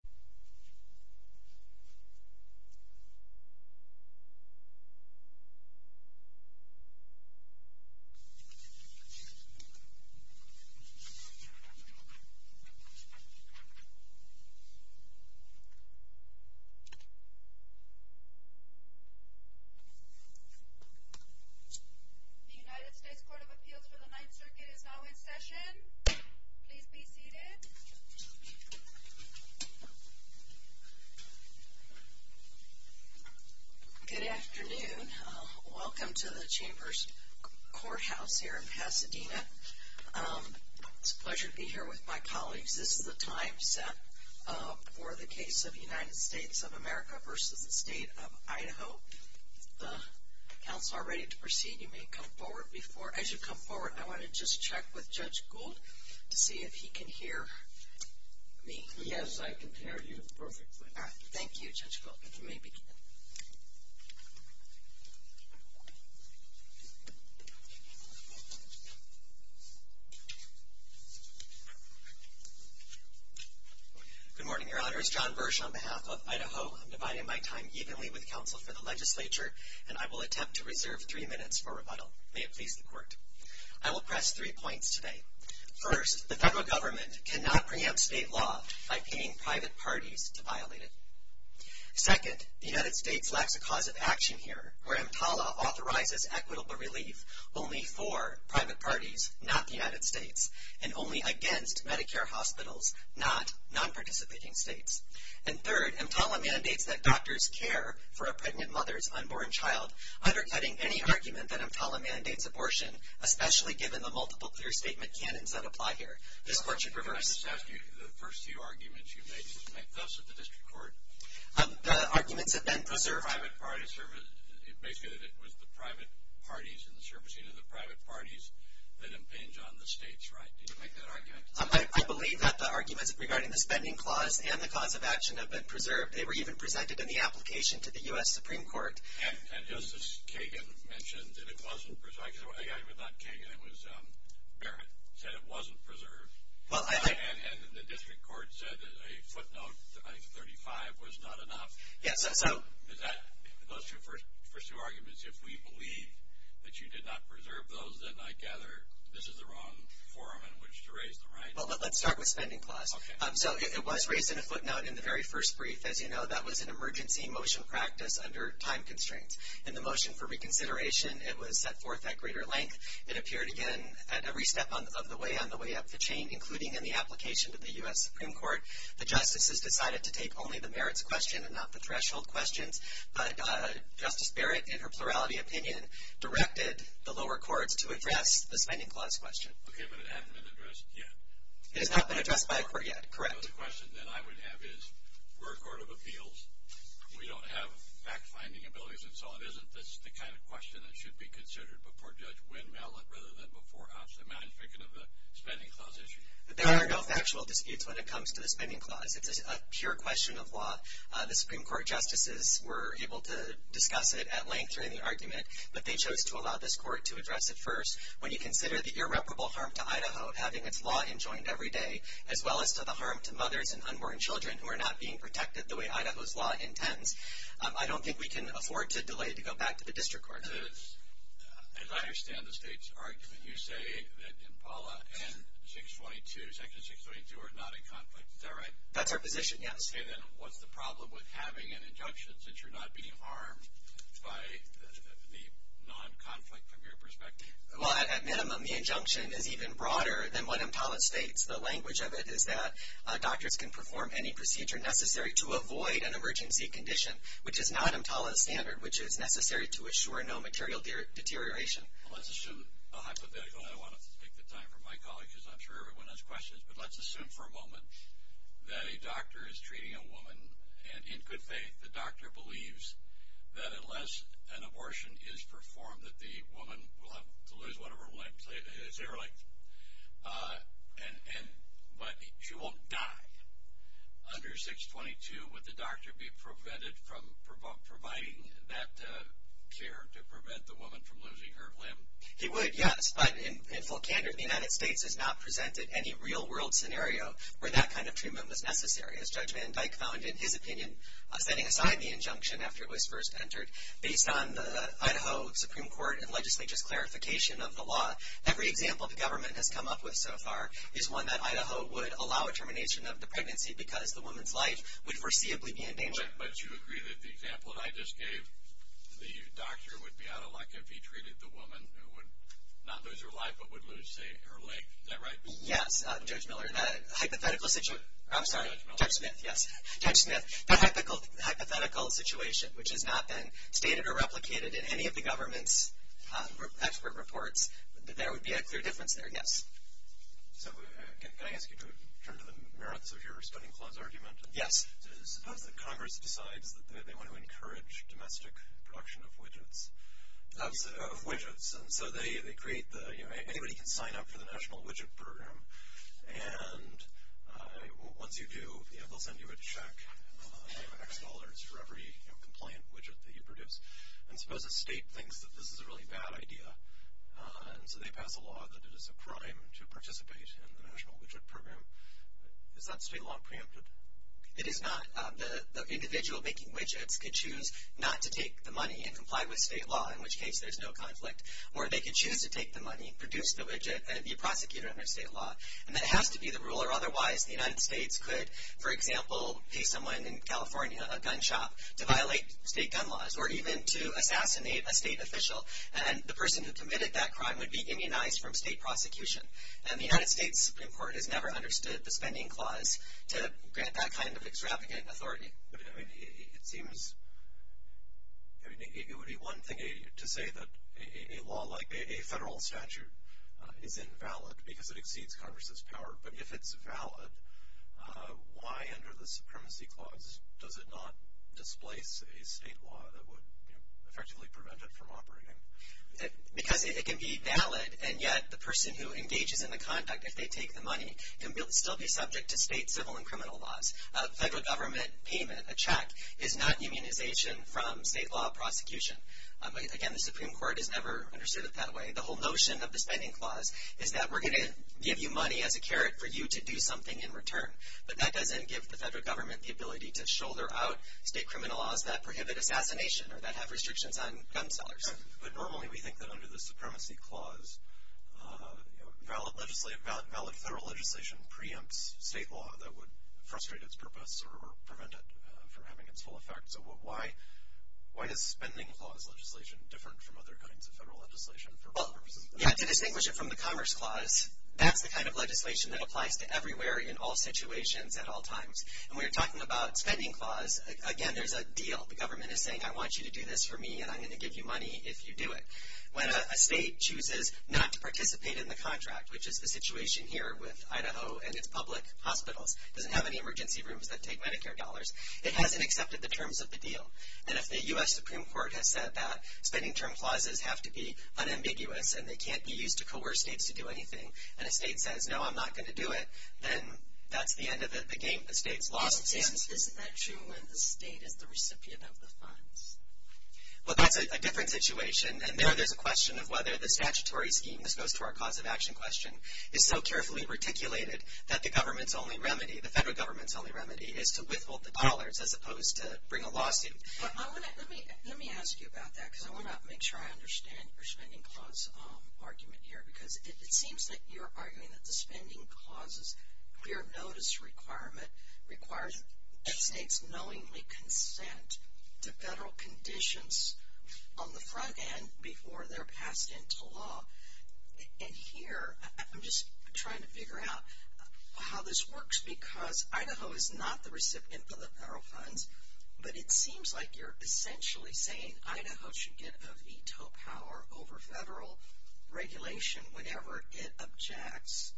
The United States Court of Appeals for the Ninth Circuit is now in session. Please be seated. Good afternoon. Welcome to the Chambers Courthouse here in Pasadena. It's a pleasure to be here with my colleagues. This is a timed set for the case of the United States of America v. State of Idaho. If the counsel are ready to proceed, you may come forward. As you come forward, I want to just check with Judge Gould to see if he can hear me. Yes, I can hear you perfectly. Thank you, Judge Gould. You may begin. Good morning, Your Honors. John Birch on behalf of Idaho. I'm dividing my time evenly with counsel for the legislature, and I will attempt to reserve three minutes for rebuttal. I will press three points today. First, the federal government cannot preempt state law by paying private parties to violate it. Second, the United States lacks a cause of action here, where EMTALA authorizes equitable relief only for private parties, not the United States, and only against Medicare hospitals, not non-participating states. And third, EMTALA mandates that doctors care for a pregnant mother's unborn child, undercutting any argument that EMTALA mandates abortion, especially given the multiple clear statement canons that apply here. The court should reverse this. Let me just ask you, the first few arguments you made, did you make those at the district court? The arguments have been preserved. The private party service, it makes it that it was the private parties and the servicing of the private parties that impinged on the state's right. Did you make that argument? I believe that the arguments regarding the spending clause and the cause of action have been preserved. They were even presented in the application to the U.S. Supreme Court. And Justice Kagan mentioned that it wasn't preserved. I was not Kagan. It was Barrett who said it wasn't preserved. And the district court said that a footnote, 935, was not enough. Those are your first two arguments. If we believe that you did not preserve those, then I gather this is the wrong forum in which to raise them, right? Well, let's start with spending clause. So it was raised in a footnote in the very first brief that, you know, under time constraints. In the motion for reconsideration, it was set forth at greater length. It appeared again at every step of the way, on the way up the chain, including in the application to the U.S. Supreme Court. The justices decided to take only the merits question and not the threshold question. But Justice Barrett, in her plurality opinion, directed the lower court to address the spending clause question. Okay, but it hasn't been addressed yet. It has not been addressed by the court yet, correct. You know, the question that I would have is, we're a court of appeals. We don't have fact-finding abilities and so on. Isn't this the kind of question that should be considered before Judge Wynn-Mallott rather than before us? I'm not even thinking of the spending clause issue. There are no factual disputes when it comes to the spending clause. It's a sheer question of why the Supreme Court justices were able to discuss it at length during the argument, but they chose to allow this court to address it first. When you consider the irreparable harm to Idaho of having its law enjoined every day as well as the harm to mothers and unborn children who are not being protected the way Idaho's law intends, I don't think we can afford to delay to go back to the district court. As I understand the state's argument, you say that Impala and Section 622 are not in conflict. Is that right? That's our position, yes. Okay, then what's the problem with having an injunction since you're not being harmed by the non-conflict from your perspective? Well, at a minimum, the injunction is even broader than what Impala states. The language of it is that doctors can perform any procedure necessary to avoid an emergency condition, which is not Impala's standard, which is necessary to assure no material deterioration. Well, let's assume a hypothetical. I don't want to take the time for my colleagues because I'm sure everyone has questions, but let's assume for a moment that a doctor is treating a woman, and in good faith the doctor believes that unless an abortion is performed, that the woman will lose one of her limbs. But she won't die. Under 622, would the doctor be prevented from providing that care to prevent the woman from losing her limb? He would, yes, but in full standard, the United States has not presented any real-world scenario where that kind of treatment was necessary. As Judge Van Dyck found in his opinion, setting aside the injunction after it was first entered, based on the Idaho Supreme Court and legislature's clarification of the law, every example the government has come up with so far is one that Idaho would allow a termination of the pregnancy because the woman's life would foreseeably be in danger. But you agree that the example that I just gave, the doctor would be out of luck if he treated the woman who would not lose her life but would lose, say, her leg. Is that right? Yes, Judge Miller, and that hypothetical situation – Judge Miller. Judge Smith, yes, Judge Smith. The hypothetical situation, which has not been stated or replicated in any of the government's expert reports, that there would be a clear difference there, yes. So can I ask you to turn to the merits of your study clause argument? Yes. Congress decides that they want to encourage domestic production of widgets, and so they create the – anybody can sign up for the National Widget Program, and once you do, they'll send you a check of $10,000 for every complaint widget that you produce. And suppose the state thinks that this is a really bad idea, and so they pass a law that it is a crime to participate in the National Widget Program. Is that state law preempted? It is not. The individual making widgets can choose not to take the money and comply with state law, in which case there's no conflict, or they can choose to take the money, produce the widget, and be prosecuted under state law. And that has to be the rule, or otherwise the United States could, for example, pay someone in California a gun shop to violate state gun laws or even to assassinate a state official, and the person who committed that crime would be immunized from state prosecution. And the United States Supreme Court has never understood the spending clause to grant that kind of extravagant authority. It would be one thing to say that a law like a federal statute is invalid because it exceeds Congress's power, but if it's valid, why under the supremacy clause does it not display a state law that would effectively prevent it from operating? Because it can be valid, and yet the person who engaged in the conduct, if they take the money, will still be subject to state civil and criminal laws. Federal government payment, a check, is not immunization from state law prosecution. Again, the Supreme Court has never understood it that way. The whole notion of the spending clause is that we're going to give you money as a carrot for you to do something in return, but that doesn't give the federal government the ability to shoulder out state criminal laws that prohibit assassination or that have restrictions on gun sellers. But normally we think that under the supremacy clause, valid federal legislation preempts state law that would frustrate its purpose or prevent it from having its full effect. So why is the spending clause legislation different from other kinds of federal legislation? To distinguish it from the commerce clause, that's the kind of legislation that applies to everywhere in all situations at all times. And when you're talking about spending clause, again, there's a deal. The government is saying, I want you to do this for me, and I'm going to give you money if you do it. When a state chooses not to participate in the contract, which is the situation here with Idaho and its public hospitals, it doesn't have any emergency rooms that take Medicare dollars, it hasn't accepted the terms of the deal. And if the U.S. Supreme Court has said that spending term clauses have to be unambiguous and they can't be used to coerce states to do anything, and a state says, no, I'm not going to do it, then that's the end of the game, the state's lost. Isn't that true when the state is the recipient of the funds? Well, that's a different situation, and there there's a question of whether the statutory scheme that goes to our cause of action question is so carefully reticulated that the government's only remedy, the federal government's only remedy is to withhold the dollars as opposed to bring a lawsuit. Let me ask you about that, because I want to make sure I understand your spending clause argument here, because it seems that you're arguing that the spending clause's clear notice requirement requires states knowingly consent to federal conditions on the front end before they're passed into law. And here I'm just trying to figure out how this works, because Idaho is not the recipient of the federal funds, but it seems like you're essentially saying Idaho should get the veto power over federal regulation, whatever it objects,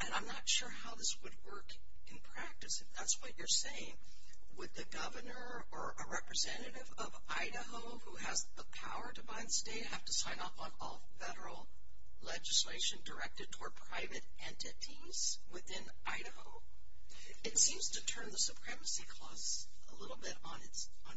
and I'm not sure how this would work in practice if that's what you're saying. Would the governor or a representative of Idaho who has the power to buy the state have to sign off on all federal legislation directed toward private entities within Idaho? It seems to turn the supremacy clause a little bit on its head.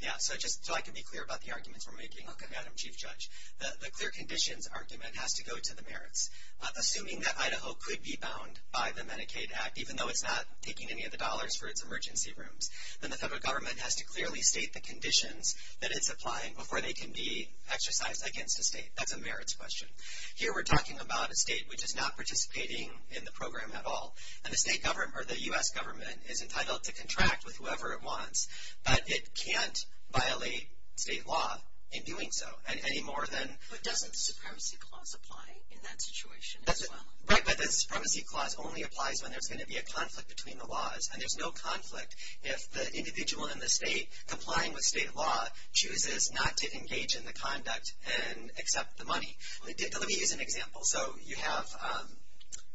Yeah, so I can be clear about the argument we're making. Madam Chief Judge, the clear conditions argument has to go to the merits. Assuming that Idaho could be bound by the Medicaid Act, even though it's not taking any of the dollars for its emergency rooms, then the federal government has to clearly state the conditions that it's applying before they can be exercised against the states. That's a merits question. Here we're talking about a state which is not participating in the program at all, and the state government or the U.S. government is entitled to contract with whoever it wants, but it can't violate state law in doing so, any more than – But doesn't the supremacy clause apply in that situation as well? Right, but the supremacy clause only applies when there's going to be a conflict between the laws, and there's no conflict if the individual in the state complying with state law chooses not to engage in the conduct and accept the money. Let me give you an example. So you have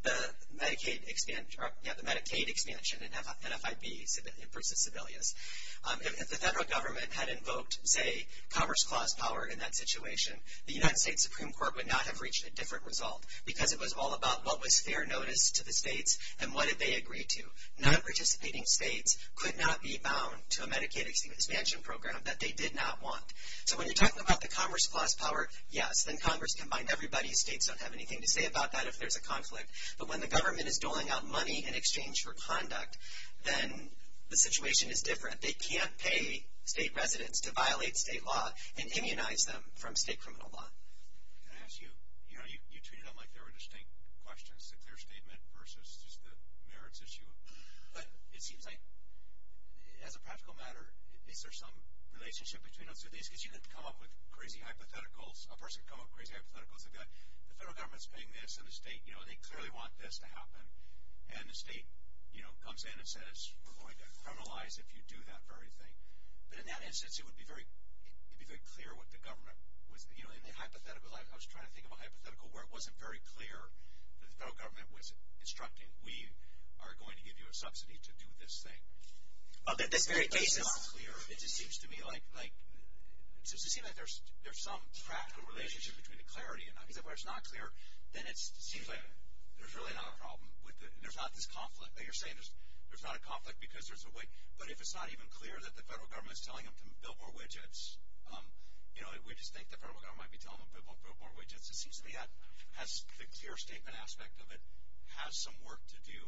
the Medicaid expansion and have an FIB for the civilians. If the federal government had invoked, say, commerce clause power in that situation, the United States Supreme Court would not have reached a different result because it was all about what was fair notice to the states and what did they agree to. None of the participating states could not be bound to a Medicaid expansion program that they did not want. So when you're talking about the commerce clause power, yes, the U.S. and Congress combined, everybody in the state does not have anything to say about that if there's a conflict. But when the government is doling out money in exchange for conduct, then the situation is different. They can't pay state residents to violate state law and immunize them from state criminal law. Can I ask you, you know, you treated them like they were distinct questions, their statement versus just the merits issue. It seems like, as a practical matter, is there some relationship between them today? Because you can come up with crazy hypotheticals. A person can come up with crazy hypotheticals and go, the federal government is paying this, and the state, you know, they clearly want this to happen. And the state, you know, comes in and says, we're going to criminalize if you do that for everything. But in that instance, it would be very clear what the government was doing. In the hypothetical, I was trying to think of a hypothetical where it wasn't very clear that the federal government was instructing, we are going to give you a subsidy to do this thing. It's not clear. It just seems to me like there's some practical relationship between the clarity. If it's not clear, then it seems like there's really not a problem. There's not this conflict. You're saying there's not a conflict because there's a way. But if it's not even clear that the federal government is selling them billboard widgets, you know, we just think the federal government might be selling them billboard widgets. It seems to me that the clear statement aspect of it has some work to do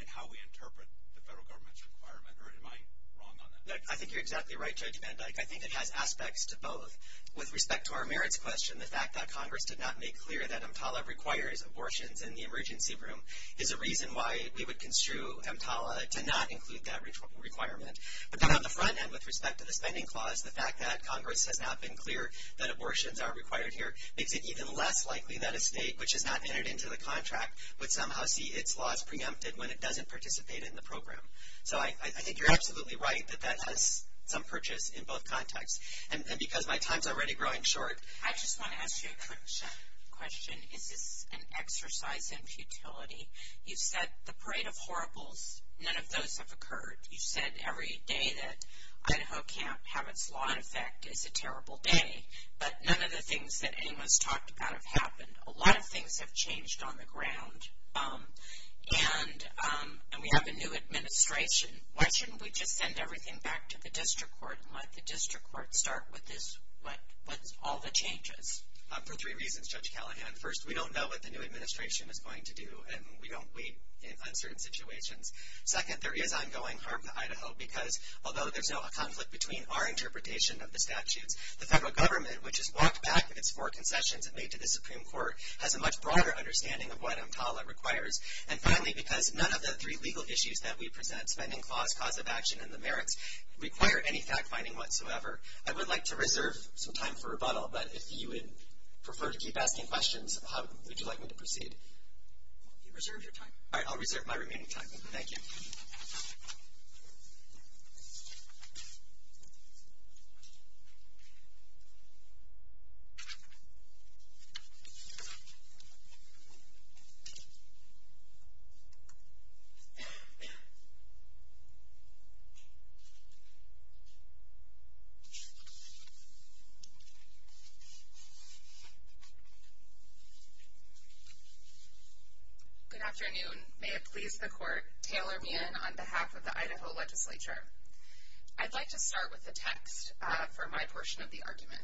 in how we interpret the federal government's requirement. Am I wrong on that? I think you're exactly right, Judge Van Dyke. I think it has aspects to both. With respect to our merits question, the fact that Congress did not make clear that EMPALA requires abortions in the emergency room is a reason why we would construe EMPALA to not include that requirement. But then on the front end, with respect to the spending clause, the fact that Congress has not been clear that abortions are required here makes it even less likely that a state which has not entered into the contract would somehow see its laws preempted when it doesn't participate in the program. So I think you're absolutely right that that has some purchase in both contexts. And because my time is already growing short, I just want to ask you a quick question. Is it an exercise in futility? You said the parade of horribles, none of those have occurred. You said every day that ISO can't have its law in effect, it's a terrible day. But none of the things that anyone's talked about have happened. A lot of things have changed on the ground. And we have a new administration. Why shouldn't we just send everything back to the district court and let the district court start with all the changes? For three reasons, Judge Callahan. First, we don't know what the new administration is going to do, and we don't wait in uncertain situations. Second, there is ongoing harm to Idaho, because although there's no conflict between our interpretation of the statute, the federal government, which has walked back against more concessions than they did at the Supreme Court, has a much broader understanding of what EMTALA requires. And finally, because none of the three legal issues that we present, spending clause, cause of action, and the merits, require any fact-finding whatsoever, I would like to reserve some time for rebuttal. But if you would prefer to keep asking questions, would you like me to proceed? You reserved your time. All right, I'll reserve my remaining time. Thank you. Thank you. Thank you. Good afternoon. May it please the Court, Taylor Meehan on behalf of the Idaho legislature. I'd like to start with the text for my portion of the argument.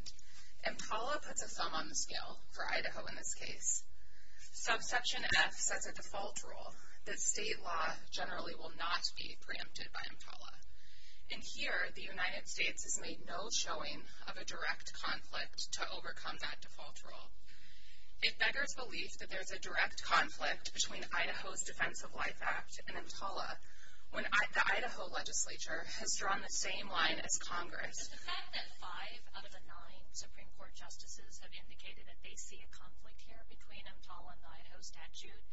EMTALA puts a thumb on the scale for Idaho in this case. So Section F says, as a default rule, that state laws generally will not be preempted by EMTALA. And here, the United States has made no showing of a direct conflict to overcome that default rule. It beggars belief that there's a direct conflict between Idaho's Defense of Life Act and EMTALA, when the Idaho legislature has drawn the same line as Congress. The fact that five out of the nine Supreme Court justices have indicated that they see a conflict here between EMTALA and Idaho's statute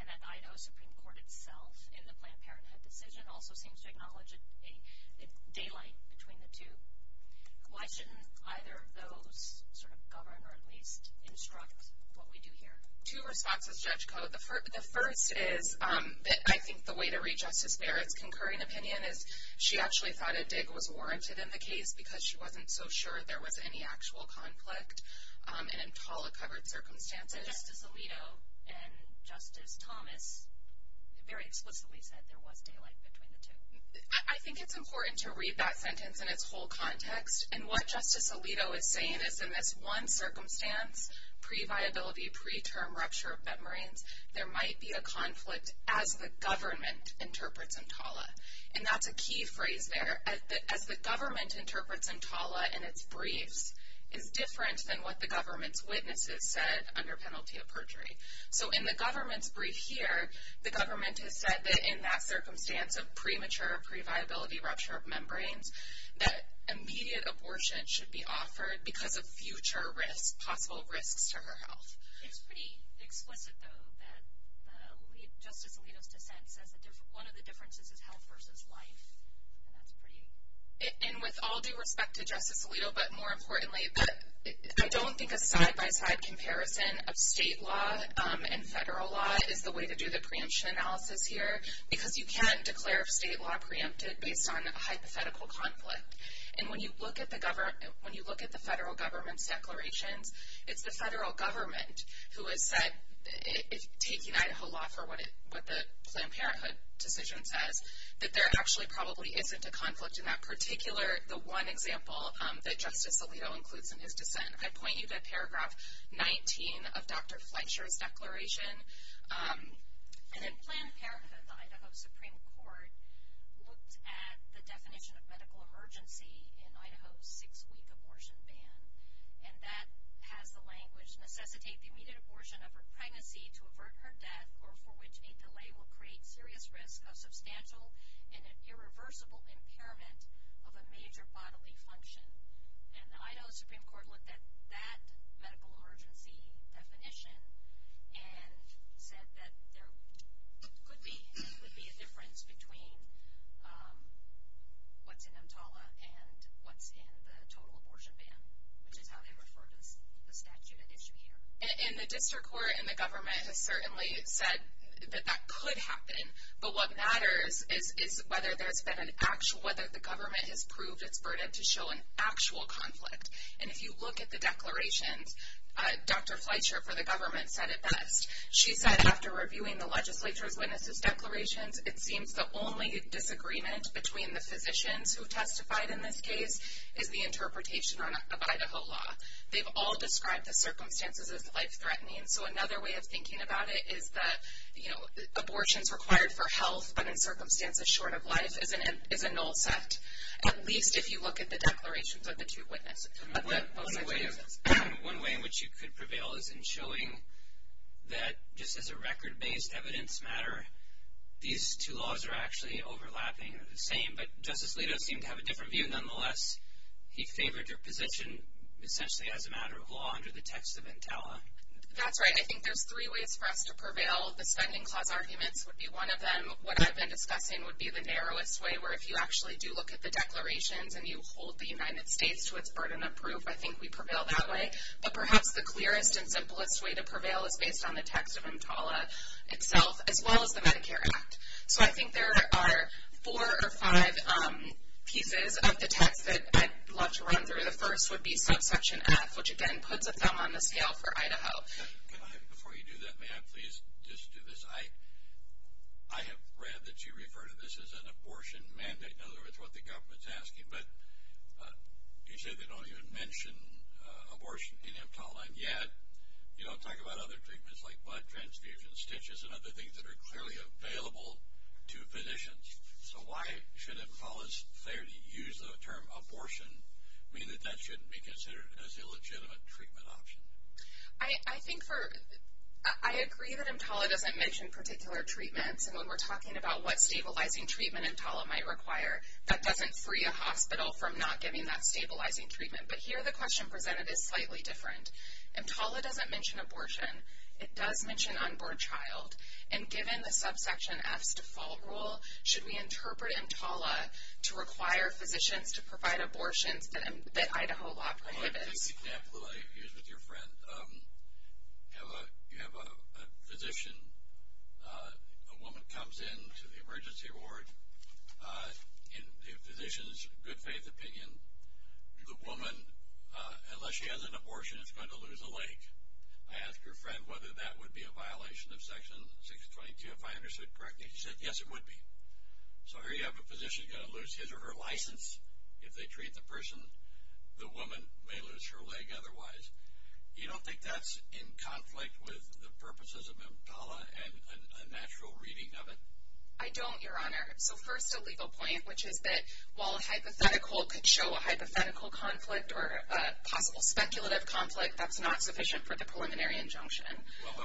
and that Idaho's Supreme Court itself in the Planned Parenthood decision also seems to acknowledge a daylight between the two. Why shouldn't either of those sort of govern or at least instruct what we do here? Two responses, Judge Koh. The first is that I think the way to read Justice Barrett's concurring opinion is she actually thought that a dig was warranted in the case because she wasn't so sure there was any actual conflict. And EMTALA covered circumstances. Justice Alito and Justice Thomas very explicitly said there was daylight between the two. I think it's important to read that sentence in its whole context. And what Justice Alito is saying is in this one circumstance, pre-viability, pre-term rupture of memorandum, there might be a conflict as the government interprets EMTALA. And that's a key phrase there. As the government interprets EMTALA in its brief, it's different than what the government's witnesses said under penalty of perjury. So in the government's brief here, the government has said that in that circumstance of premature pre-viability rupture of membranes, that immediate abortion should be offered because of future risks, possible risks to her health. It's pretty explicit, though, that Justice Alito's defense that one of the differences is health versus life. And that's pretty. And with all due respect to Justice Alito, but more importantly, I don't think a side-by-side comparison of state law and federal law is the way to do the preemption analysis here because you cannot declare state law preemptive based on a hypothetical conflict. And when you look at the federal government's declaration, it's the federal government who has said it's taking Idaho law for what the Planned Parenthood decision says, that there actually probably isn't a conflict in that particular, the one example, that Justice Alito includes in his defense. I point you to paragraph 19 of Dr. Fletcher's declaration. And in Planned Parenthood, the Idaho Supreme Court looked at the definition of medical emergency in Idaho's six-week abortion ban, and that has the language, necessitate the immediate abortion of her pregnancy to avert her death or for which any delay will create serious risk of substantial and irreversible impairment of a major bodily function. And the Idaho Supreme Court looked at that medical emergency definition and said that there could be a difference between what's in EMTALA and what's in the total abortion ban, which is how they refer to the statute at issue here. And the district court and the government certainly said that that could happen. But what matters is whether the government has proved its burden to show an actual conflict. And if you look at the declarations, Dr. Fletcher for the government said it best. She said, after reviewing the legislature's witnesses' declarations, it seems the only disagreement between the physicians who testified in this case is the interpretation of Idaho law. They've all described the circumstances as life-threatening. So another way of thinking about it is that, you know, abortions required for health but in circumstances short of life is a null test, at least if you look at the declarations of the two witnesses. One way in which you could prevail is in showing that just as a record-based evidence matter, these two laws are actually overlapping and the same, but Justice Alito seemed to have a different view nonetheless. He favored your position essentially as a matter of law under the text of EMTALA. That's right. I think there's three ways for us to prevail. The second-clause argument would be one of them. So what I've been expecting would be the narrowest way, where if you actually do look at the declarations and you hold the United States with burden of proof, I think we prevail that way. But perhaps the clearest and simplest way to prevail is based on the text of EMTALA itself, as well as the Medicare Act. So I think there are four or five pieces of the text that I'd love to run through. The first would be subsection F, which, again, puts the thumb on the scale for Idaho. Before you do that, may I please just do this? I have read that you refer to this as an abortion mandate. In other words, what the government is asking. But you say they don't even mention abortion in EMTALA, and yet you don't talk about other treatments like blood transfusions, stitches, and other things that are clearly available to physicians. So why should EMTALA's failure to use the term abortion mean that that shouldn't be considered as a legitimate treatment option? I agree that EMTALA doesn't mention particular treatments, and when we're talking about what stabilizing treatment EMTALA might require, that doesn't free a hospital from not giving that stabilizing treatment. But here the question presented is slightly different. EMTALA doesn't mention abortion. It does mention on-board child. And given the subsection F's default rule, should we interpret EMTALA to require physicians to provide abortions that Idaho law prohibits? I'll take the example I used with your friend. You have a physician. A woman comes in to the emergency ward. The physician's a good-faith opinion. The woman, unless she has an abortion, is going to lose a leg. I asked your friend whether that would be a violation of Section 622 if I understood correctly. He said, yes, it would be. So here you have a physician who's going to lose his If they treat the person, the woman may lose her leg otherwise. You don't think that's in conflict with the purposes of EMTALA and a natural reading of it? I don't, Your Honor. So first a legal point, which is that while a hypothetical could show a hypothetical conflict or a possible speculative conflict, that's not sufficient for the preliminary injunction. Well,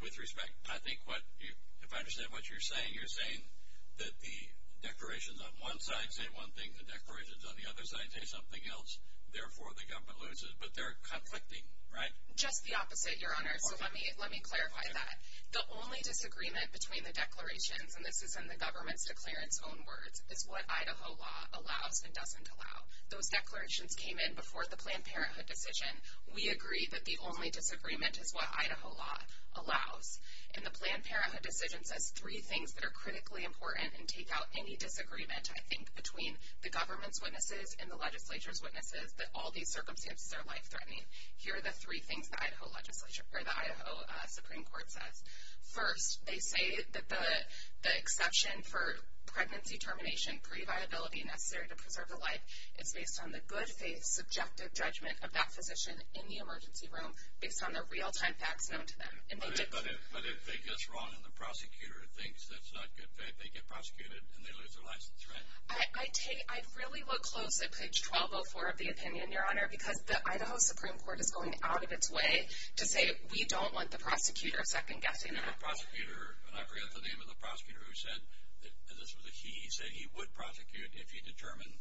with respect, I think if I understand what you're saying, you're saying that the declarations on one side say one thing, the declarations on the other side say something else, therefore the government loses, but they're conflicting, right? Just the opposite, Your Honor. Let me clarify that. The only disagreement between the declarations, and this is in the government's declarant's own words, is what Idaho law allows and doesn't allow. Those declarations came in before the Planned Parenthood decision. We agree that the only disagreement is what Idaho law allows. And the Planned Parenthood decision says three things that are critically important and take out any disagreement, I think, between the government's witnesses and the legislature's witnesses, that all these circumstances are life-threatening. Here are the three things the Idaho legislature, or the Idaho Supreme Court says. First, they say that the exception for pregnancy termination, pre-viability necessary to preserve a life, is based on the good faith subjective judgment of that physician in the emergency room, based on the real-time facts known to them. But if they guess wrong and the prosecutor thinks that's not good faith, they get prosecuted and they lose their license, right? I really look close at page 1204 of the opinion, Your Honor, because the Idaho Supreme Court is going out of its way to say, we don't want the prosecutor second-guessing that. The prosecutor, and I forget the name of the prosecutor who said, and this was a he, he said he would prosecute if he determined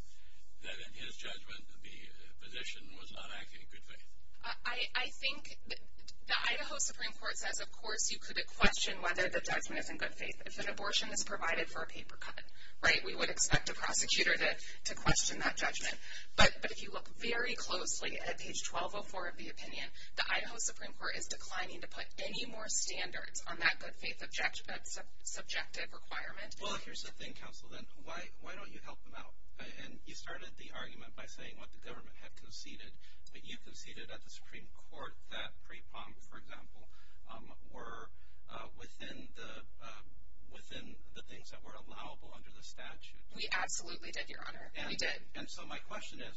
that, in his judgment, the physician was not acting in good faith. I think the Idaho Supreme Court said, of course, you could question whether the judgment is in good faith. It's an abortion provided for a paper cut, right? We wouldn't expect a prosecutor to question that judgment. But if you look very closely at page 1204 of the opinion, the Idaho Supreme Court is declining to put any more standards on that good faith subjective requirement. Well, here's the thing, counsel, then, why don't you help them out? And you started the argument by saying what the government had conceded, but you conceded at the Supreme Court that pre-prom, for example, were within the things that were allowable under the statute. We absolutely did, Your Honor, and we did. And so my question is,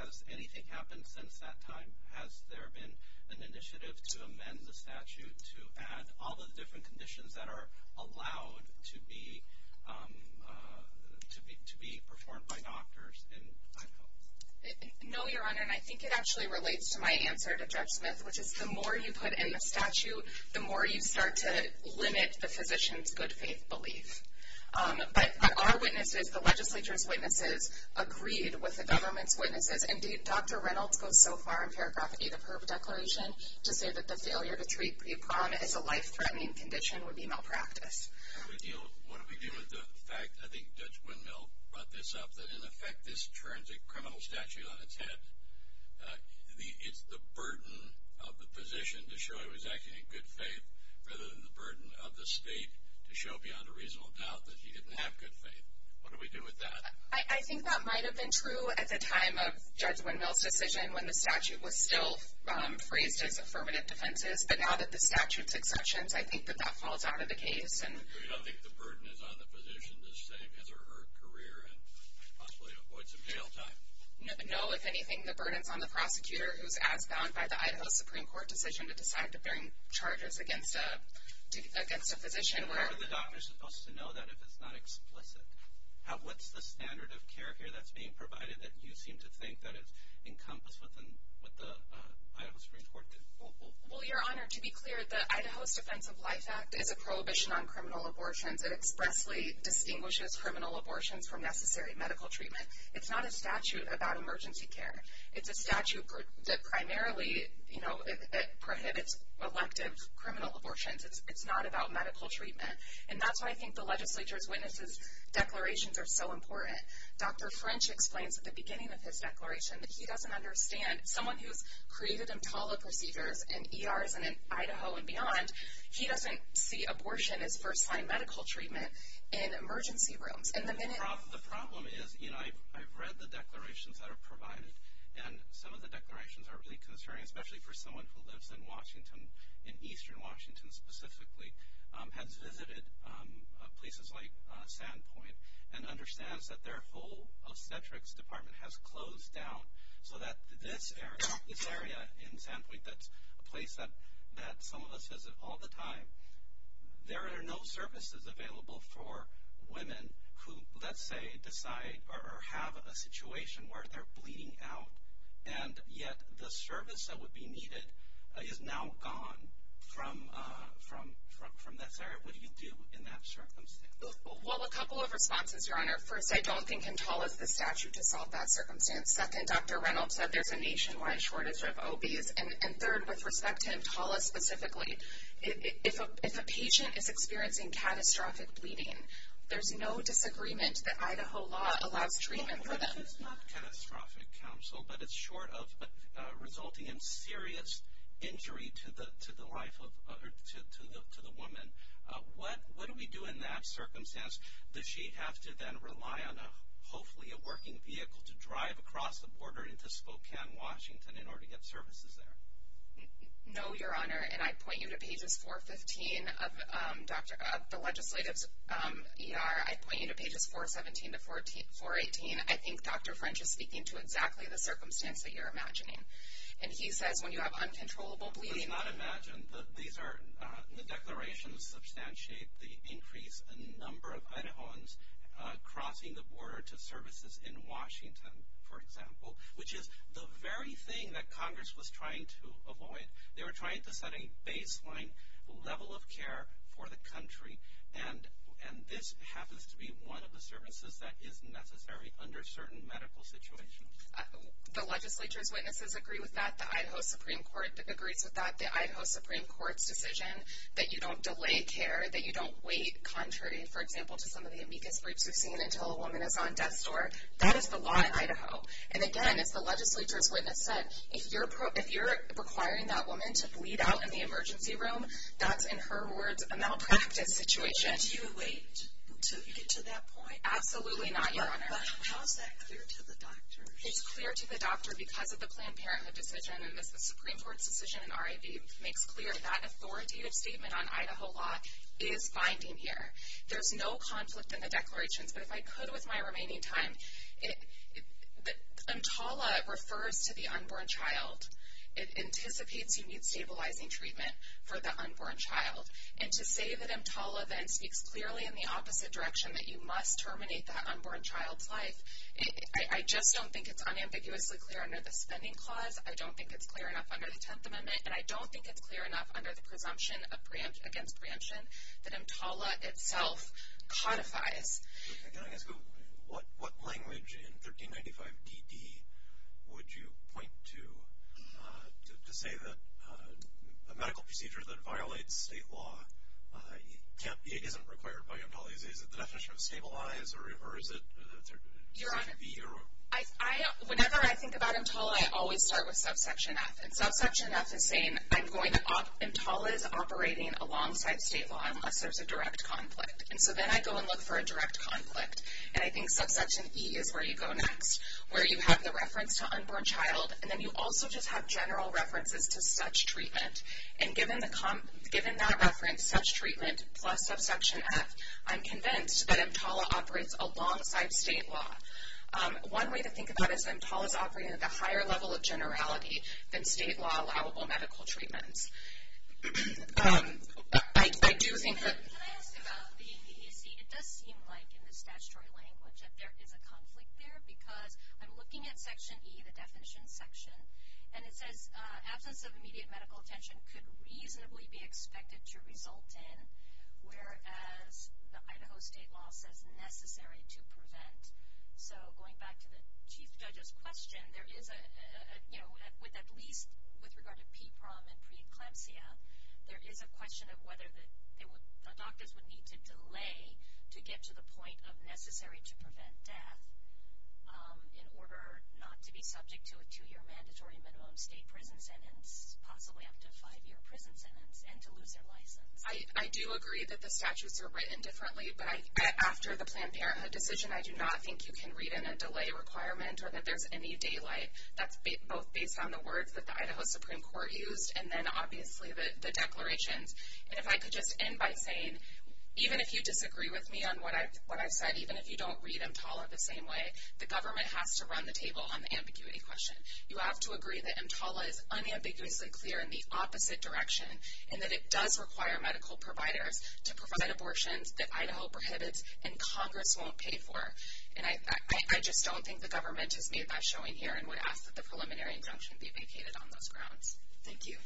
has anything happened since that time? Has there been an initiative to amend the statute to add all those different conditions that are allowed to be performed by doctors in Idaho? No, Your Honor, and I think it actually relates to my answer to Judge Smith, which is the more you put in the statute, the more you start to limit the physician's good faith belief. But our witnesses, the legislature's witnesses, agreed with the government's witnesses, and Dr. Reynolds goes so far in paragraph 8 of her declaration to say that the failure to treat pre-prom as a life-threatening condition would be malpractice. What do we do with the fact, I think Judge Wendell brought this up, that in effect this turns a criminal statute on its head? It's the burden of the physician to show he was acting in good faith rather than the burden of the state to show beyond a reasonable doubt that he didn't have good faith. What do we do with that? I think that might have been true at the time of Judge Wendell's decision when the statute was still free to the permanent defenses, but now that the statute's in question, I think that that falls out of the case. So you don't think the burden is on the physician to stay together her career and possibly avoid some jail time? If anything, the burden is on the prosecutor who's bound by the Idaho Supreme Court decision to decide to bring charges against a physician. The doctor's supposed to know that if it's not explicit. What's the standard of care here that's being provided that you seem to think that it's encompassed within what the Idaho Supreme Court did? Well, Your Honor, to be clear, the Idaho Defense of Life Act is a prohibition on criminal abortions that expressly extinguishes criminal abortions from necessary medical treatment. It's not a statute about emergency care. It's a statute that primarily prohibits elective criminal abortions. It's not about medical treatment. And that's why I think the legislature's witnesses' declarations are so important. Dr. French explains at the beginning of his declaration that he doesn't understand. Someone who's created a policy here in ERs and in Idaho and beyond, he doesn't see abortion as first-line medical treatment in emergency rooms. The problem is, you know, I've read the declarations that are provided, and some of the declarations are really concerning, especially for someone who lives in Washington, in eastern Washington specifically, has visited places like Staten Point and understands that their whole obstetrics department has closed down. So that this area in Staten Point, that's a place that some of us visit all the time, there are no services available for women who, let's say, decide or have a situation where they're bleeding out, and yet the service that would be needed is now gone from necessary. What do you do in that circumstance? Well, a couple of responses, Your Honor. First, I don't think control is the statute to solve that circumstance. Second, Dr. Reynolds said there's a nationwide shortage of OBs. And third, with respect to Intala specifically, if a patient is experiencing catastrophic bleeding, there's no disagreement that Idaho law allows treatment for them. This is not catastrophic counsel, but it's short of resulting in serious injury to the life of the woman. What do we do in that circumstance? Does she have to then rely on, hopefully, a working vehicle to drive across the border into Spokane, Washington in order to get services there? No, Your Honor. And I point you to Pages 415 of the legislative ER. I point you to Pages 417 to 418. I think Dr. French is speaking to exactly the circumstance that you're imagining. And he said when you have uncontrollable bleeding. We may not imagine that these declarations substantiate the increase in the number of Idahoans crossing the border to services in Washington, for example, which is the very thing that Congress was trying to avoid. They were trying to set a baseline level of care for the country, and this happens to be one of the services that is necessary under certain medical situations. The legislature's witnesses agree with that. The Idaho Supreme Court agrees with that. The Idaho Supreme Court's decision that you don't delay care, that you don't wait, contrary, for example, to some of the amicus brutus, until a woman is on death's door, that is the law in Idaho. And, again, if the legislature's witness said, if you're requiring that woman to bleed out in the emergency room, that's, in her words, a malpractice situation. Do you wait to get to that point? Absolutely not, Your Honor. How is that clear to the doctor? It's clear to the doctor because of the Planned Parenthood decision and the Supreme Court's decision. I think the Supreme Court's decision, RIV, makes clear that authoritative statement on Idaho law is binding here. There's no conflict in the declaration. But if I could, with my remaining time, EMTALA refers to the unborn child. It anticipates to use stabilizing treatment for the unborn child. And to say that EMTALA then speaks clearly in the opposite direction, that you must terminate that unborn child's life, I just don't think it's unambiguously clear under the Stemming Clause. I don't think it's clear enough under the Tenth Amendment, and I don't think it's clear enough under the presumption of preemption against preemption that EMTALA itself codifies. What language in 1395 BP would you point to to say that a medical procedure that violates state law can't be, isn't required by EMTALA? Is it the definition of stabilize, or is it IV? Whenever I think about EMTALA, I always start with subsection F. And subsection F is saying EMTALA is operating alongside state law unless there's a direct conflict. And so then I go and look for a direct conflict. And I think subsection E is where you go next, where you have the reference to unborn child, and then you also just have general references to such treatment. And given that reference, such treatment, plus subsection F, I'm convinced that EMTALA operates alongside state law. One way to think about it is that EMTALA is operating at a higher level of generality than state law allowable medical treatment. I do think that the ______. It does seem like in the statutory language that there is a conflict there because I'm looking at section E, the definition section, and it says absence of immediate medical attention could reasonably be expected to result in whereas the item of state law says necessary to prevent. So going back to the Chief Judge's question, there is a, you know, with at least with regard to PPROM and preeclampsia, there is a question of whether doctors would need to delay to get to the point of necessary to prevent that in order not to be subject to a two-year mandatory minimum state prison sentence, possibly up to five-year prison sentence, and to lose their license. I do agree that the statutes are written differently. But after the Planned Parenthood decision, I do not think you can read in a delay requirement or that there's any daylight. That's both based on the words that the Idaho Supreme Court used and then obviously the declaration. And if I could just end by saying, even if you disagree with me on what I've said, even if you don't read EMTALA the same way, the government has to run the table on the ambiguity question. You have to agree that EMTALA is unambiguously clear in the opposite direction and that it does require medical providers to provide abortions that Idaho prohibited and Congress won't pay for. And I just don't think the government is made by showing here and would ask that the preliminary injunction be vacated on those grounds. Thank you.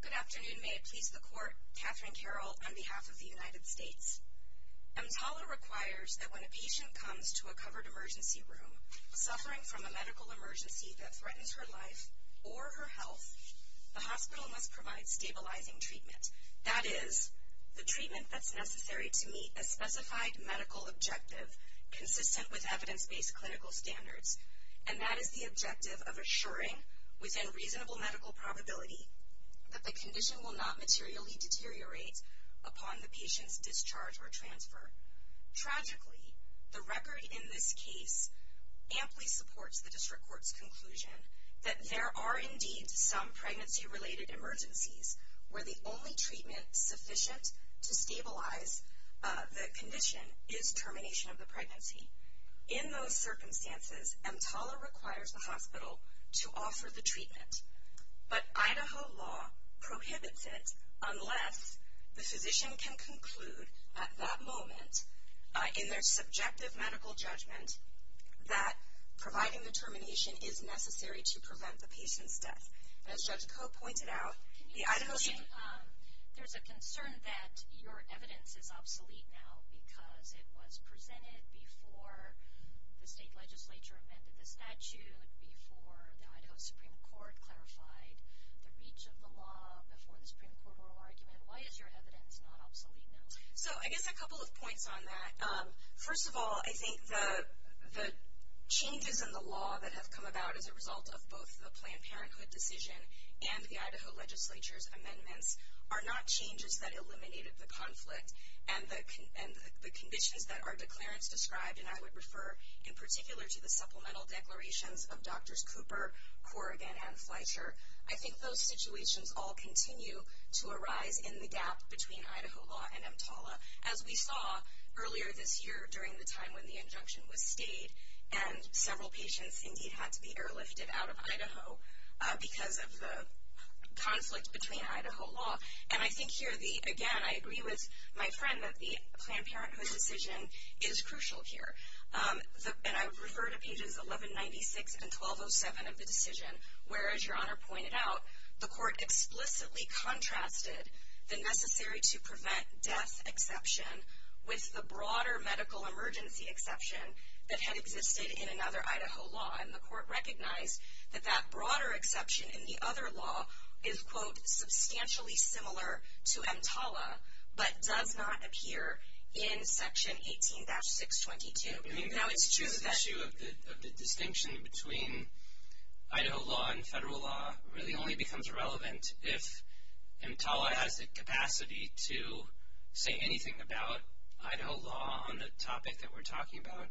Good afternoon. May it please the Court. Katherine Carroll on behalf of the United States. EMTALA requires that when a patient comes to a covered emergency room suffering from a medical emergency that threatens her life or her health, the hospital must provide stabilizing treatment. That is, the treatment that's necessary to meet a specified medical objective consistent with evidence-based clinical standards. And that is the objective of assuring, within reasonable medical probability, that the condition will not materially deteriorate upon the patient's discharge or transfer. Tragically, the record in this case amply supports the district court's conclusion that there are indeed some pregnancy-related emergencies where the only treatment sufficient to stabilize the condition is termination of the pregnancy. In those circumstances, EMTALA requires the hospital to offer the treatment. But Idaho law prohibits it unless the physician can conclude at that moment, in their subjective medical judgment, that providing the termination is necessary to prevent the patient's death. As Judge Coe pointed out, the Idaho Chief... There's a concern that your evidence is obsolete now because it was presented before the state legislature amended the statute, before the Idaho Supreme Court clarified the reach of the law, before the Supreme Court rule argument. Why is your evidence not obsolete now? So I guess a couple of points on that. First of all, I think the changes in the law that have come about as a result of both the Planned Parenthood decision and the Idaho legislature's amendments are not changes that eliminated the conflict and the conditions that our declarants describe, and I would refer in particular to the supplemental declarations of Drs. Cooper, Corrigan, and Fleischer. I think those situations all continue to arise in the gap between Idaho law and EMTALA. As we saw earlier this year during the time when the injunction was stayed and several patients indeed had to be airlifted out of Idaho because of the conflicts between Idaho law. And I think here, again, I agree with my friend that the Planned Parenthood decision is crucial here. And I would refer to pages 1196 and 1207 of the decision, where, as your Honor pointed out, the court explicitly contrasted the necessary-to-prevent-death exception with the broader medical emergency exception that had existed in another Idaho law. And the court recognized that that broader exception in the other law is, quote, substantially similar to EMTALA but does not appear in Section 18-622. I mean, that was true. That's true. The distinction between Idaho law and federal law really only becomes relevant if EMTALA has the capacity to say anything about Idaho law on the topic that we're talking about.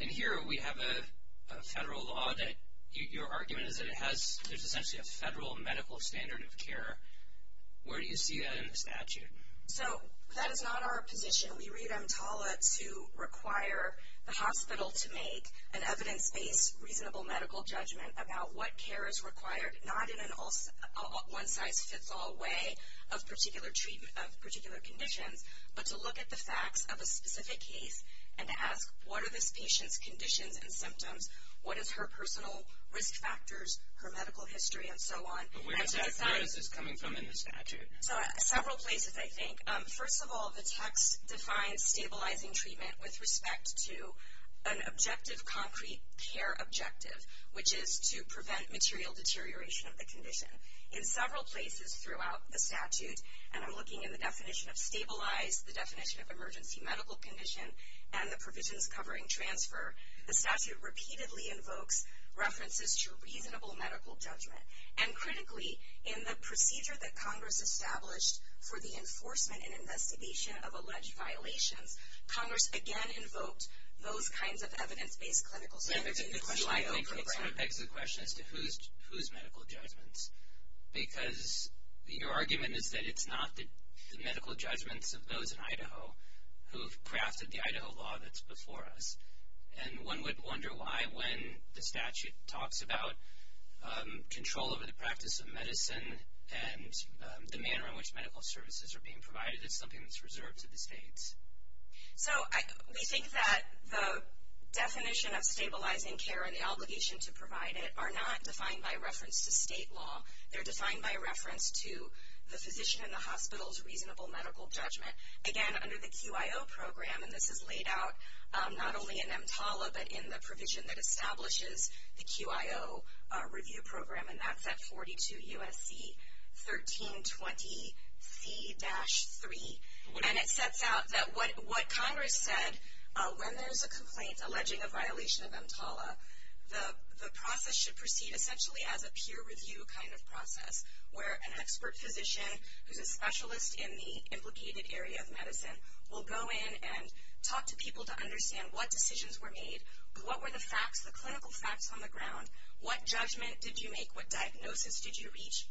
And here we have a federal law that your argument is that it has essentially a federal medical standard of care. Where do you see that in the statute? So that is not our position. We read EMTALA to require the hospital to make an evidence-based reasonable medical judgment about what care is required, not in a one-size-fits-all way of particular conditions, but to look at the facts of a specific case and ask, what are this patient's conditions and symptoms, what is her personal risk factors, her medical history, and so on. But where does that come from in the statute? Several places, I think. First of all, the text defines stabilizing treatment with respect to an objective concrete care objective, which is to prevent material deterioration of the condition. In several places throughout the statute, and I'm looking at the definition of stabilize, the definition of emergency medical condition, and the provisions covering transfer, the statute repeatedly invokes references to reasonable medical judgment. And critically, in the procedure that Congress established for the enforcement and investigation of alleged violations, Congress again invokes those kinds of evidence-based clinical standards. The question is, whose medical judgments? Because your argument is that it's not the medical judgments of those in Idaho who have crafted the Idaho law that's before us. And one would wonder why, when the statute talks about control over the practice of medicine and the manner in which medical services are being provided, it's something that's reserved to the states. So we think that the definition of stabilizing care and the obligation to provide it are not defined by reference to state law. They're defined by reference to the physician in the hospital's reasonable medical judgment. Again, under the QIO program, and this is laid out not only in EMTALA, but in the provision that establishes the QIO review program, and that's at 42 U.S.C. 1320C-3. And it sets out that what Congress said, when there's a complaint alleging a violation of EMTALA, the process should proceed essentially as a peer review kind of process, where an expert physician who's a specialist in the implicated area of medicine will go in and talk to people to understand what decisions were made, what were the facts, the clinical facts on the ground, what judgment did you make, what diagnosis did you reach,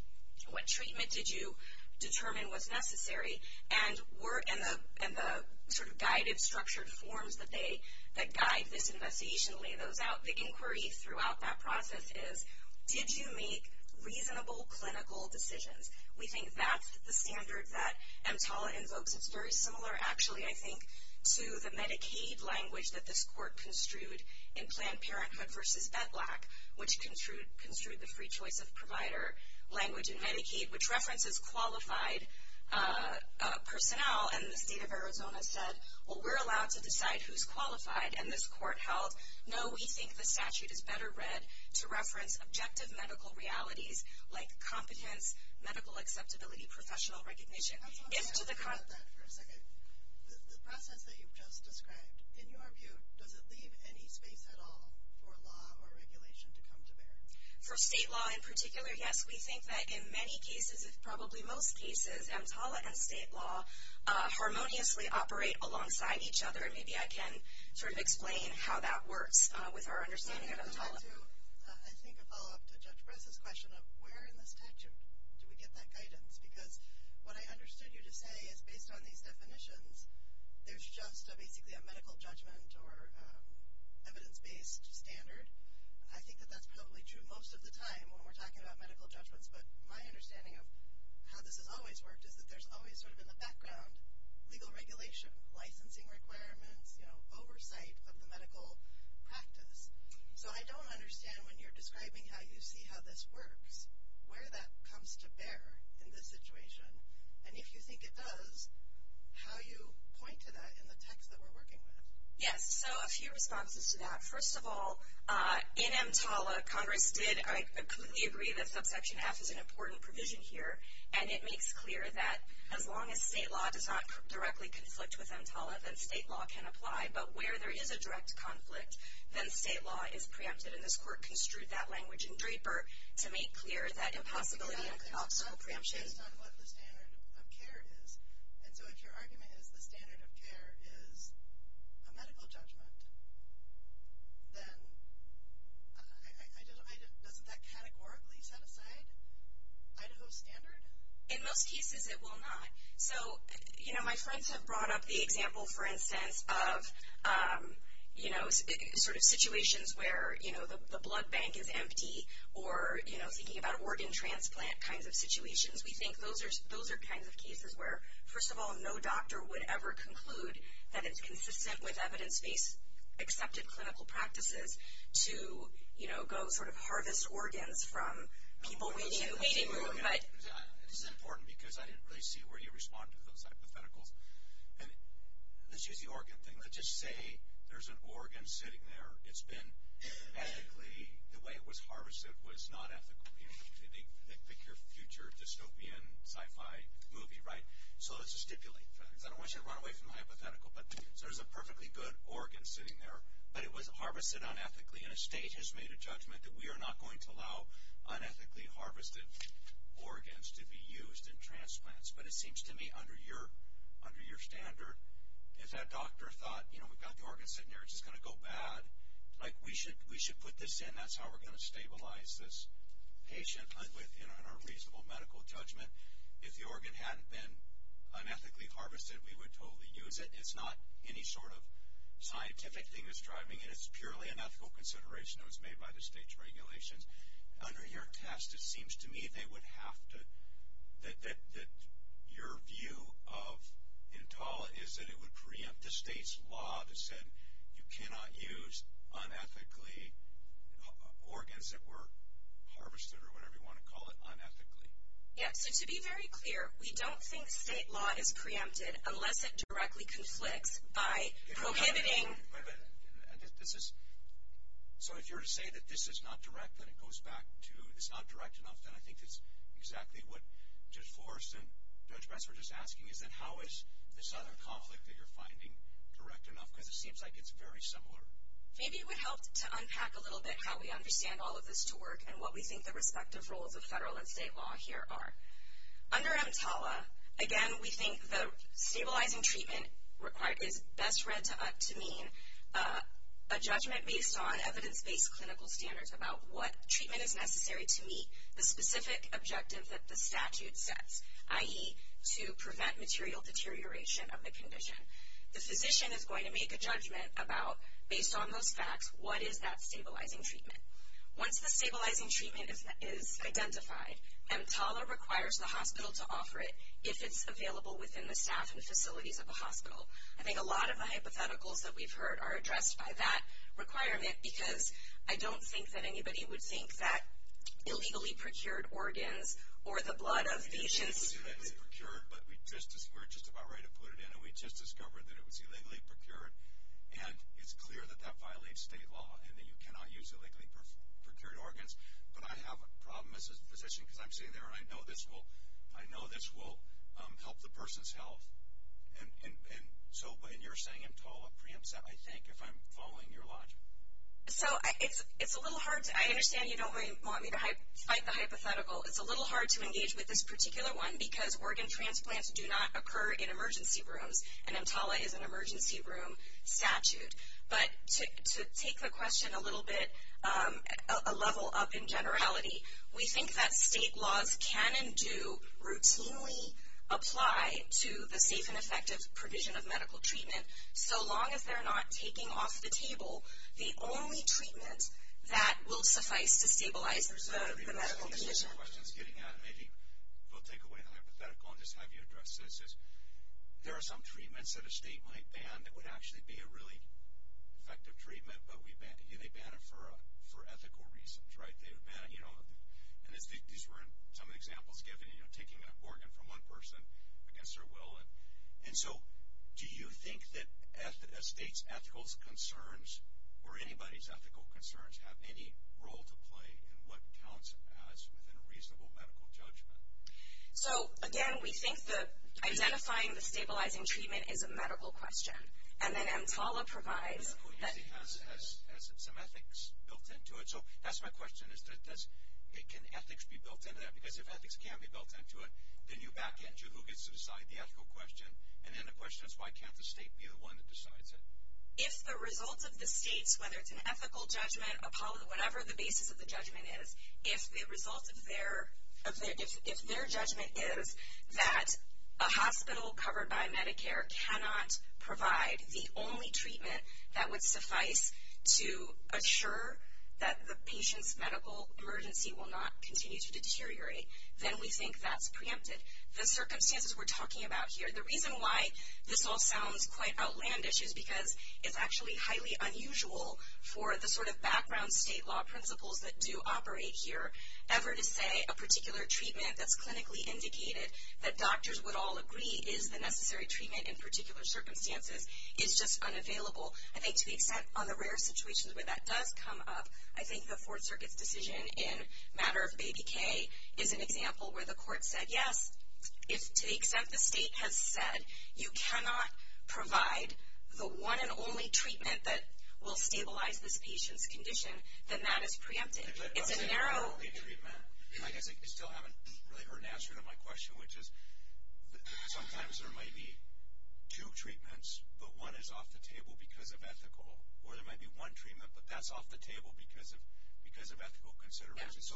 what treatment did you determine was necessary, and the sort of guided, structured forms that guide this investigation, the way the inquiry throughout that process is, did you make reasonable clinical decisions? We think that's the standard that EMTALA invokes. It's very similar, actually, I think, to the Medicaid language that this court construed in Planned Parenthood versus EDLAC, which construed the free choice of provider language in Medicaid, which references qualified personnel. And the State of Arizona said, well, we're allowed to decide who's qualified, and this court held, no, we think the statute is better read to reference objective medical realities, like competent medical accessibility professional recognition. The process that you've just described, in your view, does it leave any space at all for law or regulation to come to bear? For state law in particular, yes. We think that in many cases, if probably most cases, EMTALA and state law harmoniously operate alongside each other. Maybe I can sort of explain how that works with our understanding of EMTALA. I'll do, I think, a follow-up to Judge Brez's question of where in the statute do we get that guidance, because what I understood you to say is based on these definitions, there's just basically a medical judgment or evidence-based standard. I think that that's probably true most of the time when we're talking about medical judgments, but my understanding of how this has always worked is that there's always sort of in the background legal regulation, licensing requirements, you know, oversight of the medical practice. So I don't understand when you're describing how you see how this works, where that comes to bear in this situation, and if you think it does, how you point to that in the text that we're working with. Yes. So a few responses to that. First of all, in EMTALA, Congress did agree that subsection F is an important provision here, and it makes clear that as long as state law does not directly conflict with EMTALA, that state law can apply, but where there is a direct conflict, then state law is preempted, and this Court construed that language in Draper to make clear that impossibility of an optional preemption is not what the standard of care is. And so if your argument is the standard of care is a medical judgment, then I'm not hearing. Does that categorically set aside Idaho's standard? In most cases, it will not. So, you know, my friends have brought up the example, for instance, of, you know, sort of situations where, you know, the blood bank is empty or, you know, thinking about organ transplant kinds of situations. We think those are kinds of cases where, first of all, no doctor would ever conclude that it's consistent with evidence-based accepted clinical practices to, you know, go sort of harvest organs from people we knew. This is important because I didn't really see where you responded to those hypotheticals. Let's use the organ thing. Let's just say there's an organ sitting there. It's been, ethically, the way it was harvested was not ethical. You know, make your future dystopian sci-fi movie, right? So let's just stipulate. I don't want you to run away from the hypothetical. So there's a perfectly good organ sitting there, but it was harvested unethically, and a state has made a judgment that we are not going to allow unethically harvested organs to be used in transplants. But it seems to me, under your standard, if that doctor thought, you know, we've got the organ sitting there, it's just going to go bad, like, we should put this in. That's how we're going to stabilize this patient in a reasonable medical judgment. If the organ hadn't been unethically harvested, we would totally use it. It's not any sort of scientific thing that's driving it. It's purely an ethical consideration that was made by the state's regulations. Under your test, it seems to me they would have to – that your view of entail is that it would preempt the state's law to say you cannot use unethically organs that were harvested, or whatever you want to call it, unethically. Yes, and to be very clear, we don't think state law is preempted unless it directly conflicts by prohibiting – Wait a minute. So if you're to say that this is not direct, that it goes back to – it's not direct enough, then I think it's exactly what Judge Forrest and Judge Metz were just asking, is that how is the cytotoxic that you're finding direct enough? Because it seems like it's very similar. Maybe it would help to unpack a little bit how we understand all of this to work and what we think the respective roles of federal and state law here are. Under EMTALA, again, we think the stabilizing treatment requires – that's read to us to mean a judgment based on evidence-based clinical standards about what treatment is necessary to meet the specific objectives that the statute sets, i.e., to prevent material deterioration of the condition. The physician is going to make a judgment about, based on those facts, what is that stabilizing treatment. Once the stabilizing treatment is identified, EMTALA requires the hospital to offer it if it's available within the staff and facilities of the hospital. I think a lot of the hypotheticals that we've heard are addressed by that requirement because I don't think that anybody would think that illegally procured organs or the blood of patients – It was illegally procured, but we were just about ready to put it in, and we just discovered that it was illegally procured. And it's clear that that violates state law and that you cannot use illegally procured organs. But I have a problem as a physician because I'm sitting there, and I know this will help the person's health. And so you're saying EMTALA preempts that, I think, if I'm following your logic. So it's a little hard. I understand you don't want me to cite the hypothetical. It's a little hard to engage with this particular one because organ transplants do not occur in emergency rooms, and EMTALA is an emergency room statute. But to take the question a little bit, a level up in generality, we think that state laws can and do routinely apply to the safe and effective provision of medical treatment so long as they're not taking off the table the only treatment that will suffice to stabilize the medical physician. I don't know if this is getting out of me. We'll take away the hypothetical and just have you address this. There are some treatments that a state might ban that would actually be a really effective treatment, but again, they ban it for ethical reasons, right? These were some examples given, taking an organ from one person against their will. And so do you think that a state's ethical concerns or anybody's ethical concerns have any role to play in what counts as a reasonable medical judgment? So, again, we think that identifying the stabilizing treatment is a medical question. And then EMTALA provides that it has some ethics built into it. So that's my question. Can ethics be built into that? Because if ethics can't be built into it, then you back edge who gets to decide the ethical question. And then the question is, why can't the state be the one that decides it? If the results of the states, whether it's an ethical judgment, whatever the basis of the judgment is, if the result of their judgment is that a hospital covered by Medicare cannot provide the only treatment that would suffice to ensure that the patient's medical emergency will not continue to deteriorate, then we think that's preemptive. The circumstances we're talking about here, the reason why this all sounds quite outlandish is because it's actually highly unusual for the sort of background state law principles that do operate here ever to say a particular treatment that's clinically indicated that doctors would all agree is the necessary treatment in particular circumstances. It's just unavailable. I think to the extent on the rare situations where that does come up, I think the Fourth Circuit's decision in matter of ABK is an example where the court said, yes, if to the extent the state has said you cannot provide the one and only treatment that will stabilize this patient's condition, then that is preemptive. It's a narrow... I think you still haven't really heard an answer to my question, which is sometimes there may be two treatments, but one is off the table because of ethical, or there might be one treatment, but that's off the table because of ethical considerations.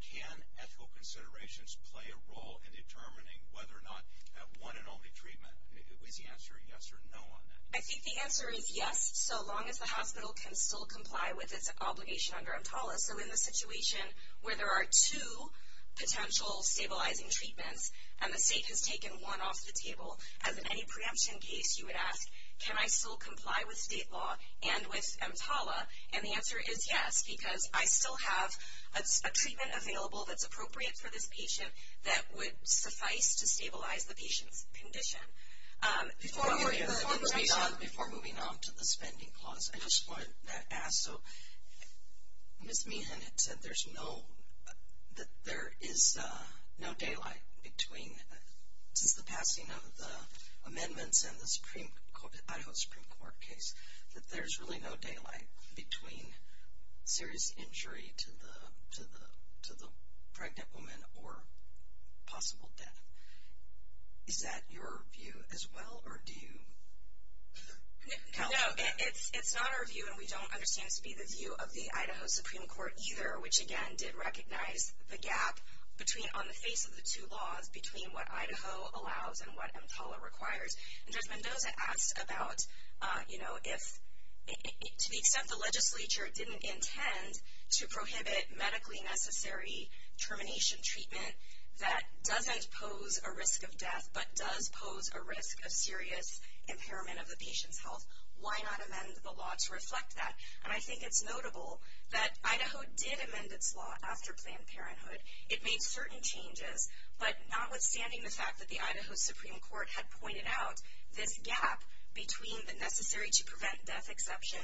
Can ethical considerations play a role in determining whether or not that one and only treatment, is the answer yes or no on that? I think the answer is yes, so long as the hospital can still comply with its obligation under EMTALA. If we're in the situation where there are two potential stabilizing treatments and the state has taken one off the table, as in any preemption case, you would ask, can I still comply with state law and with EMTALA? And the answer is yes, because I still have a treatment available that's appropriate for this patient that would suffice to stabilize the patient's condition. Before moving on to the spending clause, I just wanted to ask, so Ms. Meehan had said that there is no daylight between the passing of the amendments and the Idaho Supreme Court case, that there's really no daylight between serious injury to the pregnant woman or possible death. Is that your view as well, or do you? No, it's not our view, and we don't understand it to be the view of the Idaho Supreme Court either, which, again, did recognize the gap on the face of the two laws between what Idaho allows and what EMTALA requires. And just a note to ask about, you know, if, to the extent the legislature didn't intend to prohibit medically necessary termination treatment that doesn't pose a risk of death but does pose a risk of serious impairment of the patient's health, why not amend the law to reflect that? And I think it's notable that Idaho did amend this law after Planned Parenthood. It made certain changes, but notwithstanding the fact that the Idaho Supreme Court had pointed out this gap between the necessary to prevent death exception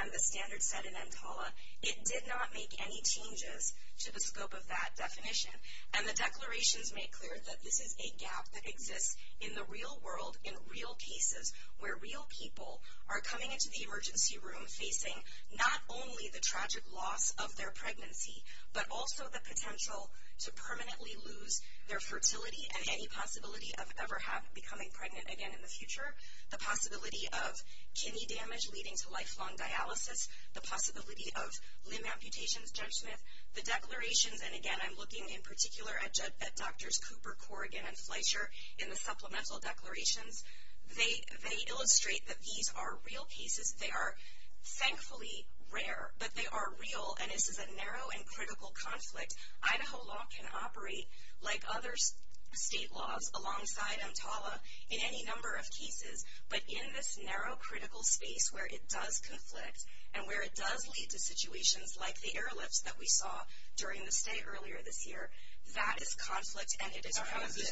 and the standards set in EMTALA, it did not make any changes to the scope of that definition. And the declarations make clear that this is a gap that exists in the real world, in real cases, where real people are coming into the emergency room facing not only the tragic loss of their pregnancy but also the potential to permanently lose their fertility and any possibility of ever becoming pregnant again in the future, the possibility of kidney damage leading to lifelong dialysis, the possibility of limb amputation judgment. The declarations, and, again, I'm looking in particular at Drs. Cooper, Corrigan, and Fleischer in the supplemental declarations, they illustrate that these are real cases. They are thankfully rare, but they are real, and this is a narrow and critical conflict. Idaho law can operate like other state laws alongside EMTALA in any number of cases, but in this narrow critical space where it does conflict and where it does lead to situations like the airlift that we saw during the state earlier this year, that is conflict, and it is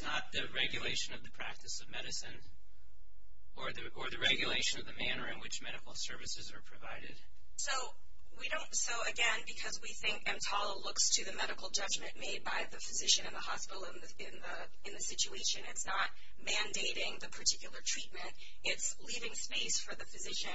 not the regulation of the practice of medicine or the regulation of the manner in which medical services are provided. So, again, because we think EMTALA looks to the medical judgment made by the physician and the hospital in the situation. It's not mandating the particular treatment. It's leaving space for the physician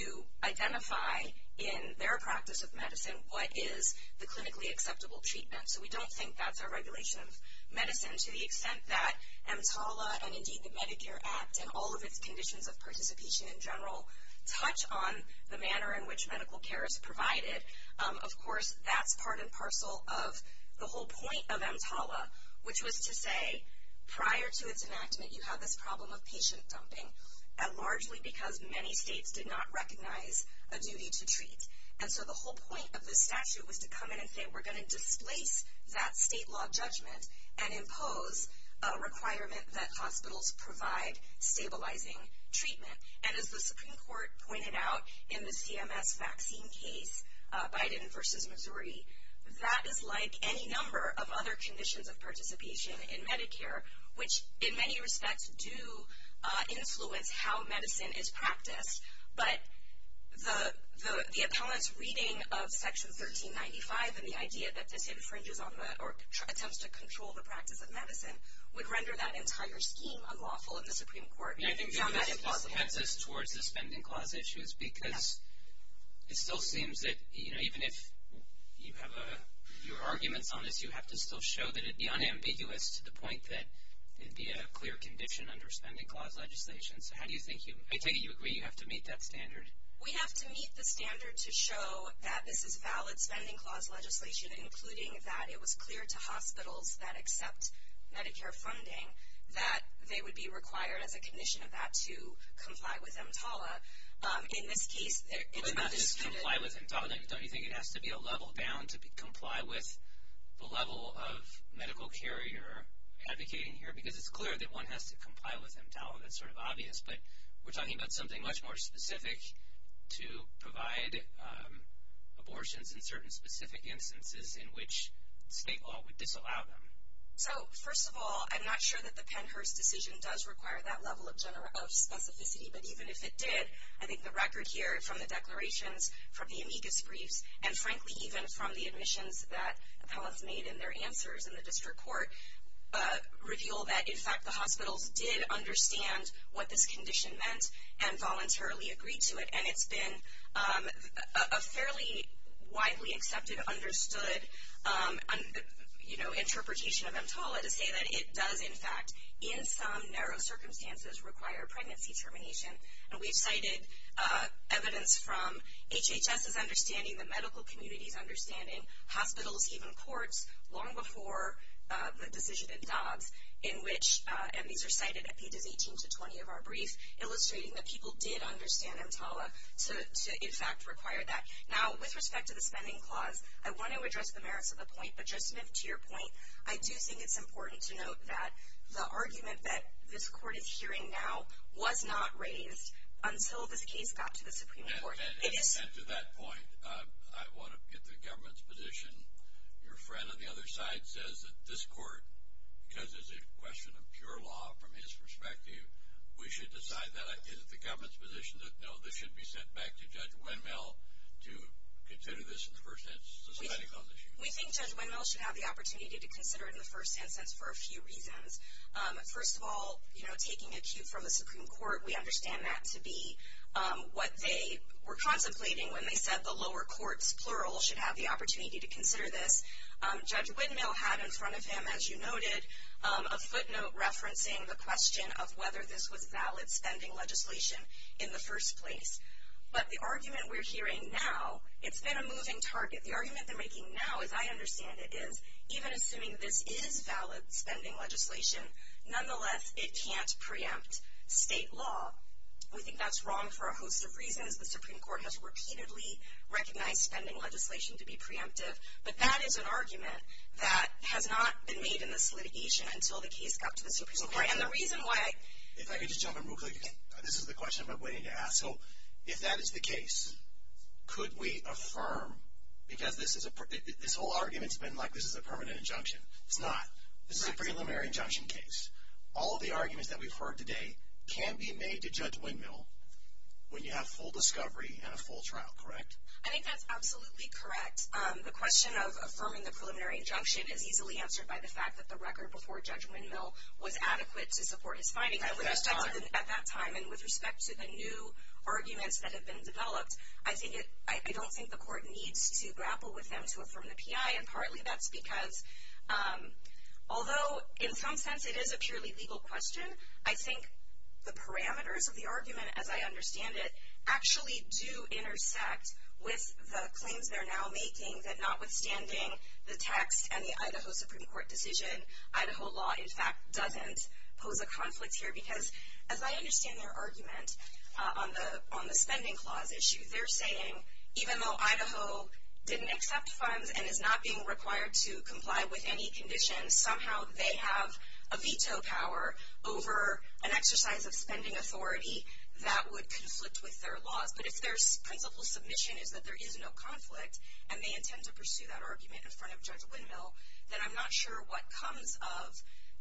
to identify in their practice of medicine what is the clinically acceptable treatment. So we don't think that's a regulation of medicine to the extent that EMTALA and, indeed, the Medicare Act and all of its conditions of participation in general touch on the manner in which medical care is provided. Of course, that's part and parcel of the whole point of EMTALA, which was to say prior to its enactment you have this problem of patient dumping, and largely because many states did not recognize a new use of treatment. And so the whole point of the statute was to come in and say we're going to displace that state law judgment and impose a requirement that hospitals provide stabilizing treatment. And as the Supreme Court pointed out in the CMS vaccine case, Biden versus Missouri, that is like any number of other conditions of participation in Medicare, which in many respects do influence how medicine is practiced. But the appellant's reading of Section 1395 and the idea that it infringes on or attempts to control the practice of medicine would render that entire scheme unlawful in the Supreme Court. And I think you're making progress towards the spending clause issues because it still seems that, you know, even if you have your argument on it, you have to still show that it's unambiguous to the point that it would be a clear condition under spending clause legislation. So how do you think you – I take it you agree you have to meet that standard. We have to meet the standard to show that this is valid spending clause legislation, including that it was clear to hospitals that accept Medicare funding that they would be required, at the condition of that, to comply with EMTALA. In this case, it is – But not just comply with EMTALA. Don't you think it has to be a level bound to comply with the level of medical care you're advocating here? Because it's clear that one has to comply with EMTALA. It's sort of obvious. But we're talking about something much more specific to provide abortions in certain specific instances in which EMTALA would disallow them. So, first of all, I'm not sure that the Pennhurst decision does require that level of specificity, but even if it did, I think the record here from the declarations from the amicus brief and, frankly, even from the admissions that Pellis made in their answers in the district court, reveal that, in fact, the hospital did understand what this condition meant and voluntarily agreed to it. And it's been a fairly widely accepted, understood, you know, interpretation of EMTALA to say that it does, in fact, in some narrow circumstances require pregnancy termination. And we've cited evidence from HHS's understanding, the medical community's understanding, hospital came in court long before the decision in DOG in which, and these are cited at pages 18 to 20 of our brief, illustrating that people did understand EMTALA to, in fact, require that. Now, with respect to the spending clause, I want to address the merits of the point, but just to your point, I do think it's important to note that the argument that this court is hearing now was not raised until this case got to the Supreme Court. And to that point, I want to get the government's position. Your friend on the other side says that this court, because it's a question of pure law from his perspective, we should decide that. Is it the government's position that no, this should be sent back to Judge Wendell to consider this in the first instance, the spending clause issue? We think Judge Wendell should have the opportunity to consider it in the first instance for a few reasons. First of all, you know, taking it from the Supreme Court, we understand that to be what they were contemplating when they said the lower court, plural, should have the opportunity to consider this. Judge Wendell had in front of him, as you noted, a footnote referencing the question of whether this was valid spending legislation in the first place. But the argument we're hearing now, it's been a moving target. The argument they're making now, as I understand it, even assuming this is valid spending legislation, nonetheless, it can't preempt state law. We think that's wrong for a host of reasons. The Supreme Court has repeatedly recognized spending legislation to be preemptive. But that is an argument that has not been made in this litigation until the case got to the Supreme Court. And the reason why. If I could just jump in real quick. This is the question I've been waiting to ask. So if that is the case, could we affirm, because this whole argument has been like this is a permanent injunction. It's not. This is a preliminary injunction case. All of the arguments that we've heard today can be made to Judge Wendell when you have full discovery and a full trial. Correct? I think that's absolutely correct. The question of affirming the preliminary injunction is easily answered by the fact that the record before Judge Wendell was adequate to support his finding. I would have thought at that time, and with respect to the new arguments that have been developed, I don't think the Court needs to grapple with them to affirm the P.I., and partly that's because although in some sense it is a purely legal question, I think the parameters of the argument, as I understand it, actually do intersect with the claims they're now making that notwithstanding the tax and the Idaho Supreme Court decision, Idaho law, in fact, doesn't pose a conflict here. Because as I understand their argument on the spending clause issue, they're saying even though Idaho didn't accept funds and is not being required to comply with any conditions, somehow they have a veto power over an exercise of spending authority that would conflict with their law. But if their whole submission is that there is no conflict and they intend to pursue that argument in front of Judge Wendell, then I'm not sure what comes of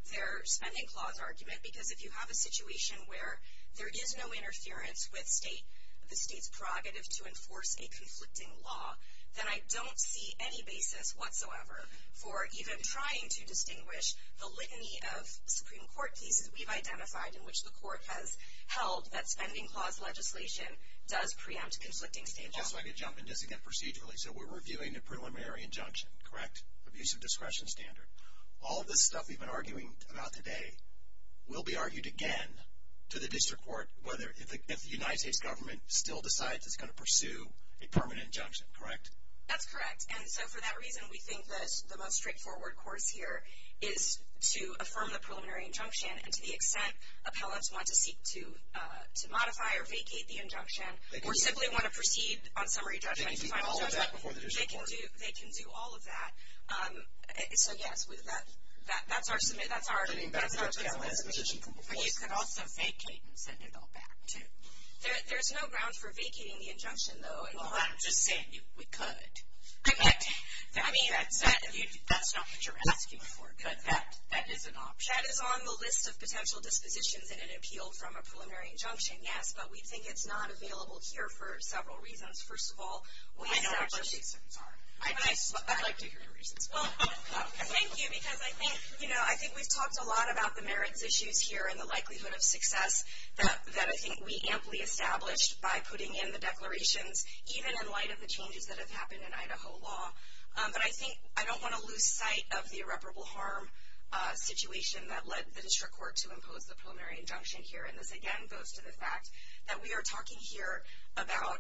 their spending clause argument. Because if you have a situation where there is no interference with the state's prerogative to enforce a conflicting law, then I don't see any basis whatsoever for even trying to distinguish the litany of Supreme Court cases we've identified in which the Court has held that spending clause legislation does preempt conflicting state laws. I could jump in just again procedurally. So we're reviewing the preliminary injunction, correct? The piece of discretion standard. All of the stuff we've been arguing about today will be argued again to the district court if the United States government still decides it's going to pursue a permanent injunction, correct? That's correct. And so for that reason, we think that the most straightforward course here is to affirm the preliminary injunction and to the extent of how us want to seek to modify or vacate the injunction or simply want to proceed on summary judgment by all of that, they can do all of that. So, yes, that's ours. I mean, of course, we have a legislation. We could also vacate and send it all back, too. There's no ground for vacating the injunction, though. Well, I'm just saying we could. Okay. I mean, that's not what you're asking for, but that is an option. That is on the list of potential dispositions in an appeal from a preliminary injunction, yes, but we think it's not available here for several reasons. First of all, we don't know what those reasons are. I'd like to hear your reasons. Well, thank you, because I think we've talked a lot about the merits issues here and the likelihood of success that I think we amply established by putting in the declaration, even in light of the changes that have happened in Idaho law. But I think I don't want to lose sight of the irreparable harm situation that led the district court to impose the preliminary injunction here, and this, again, goes to the fact that we are talking here about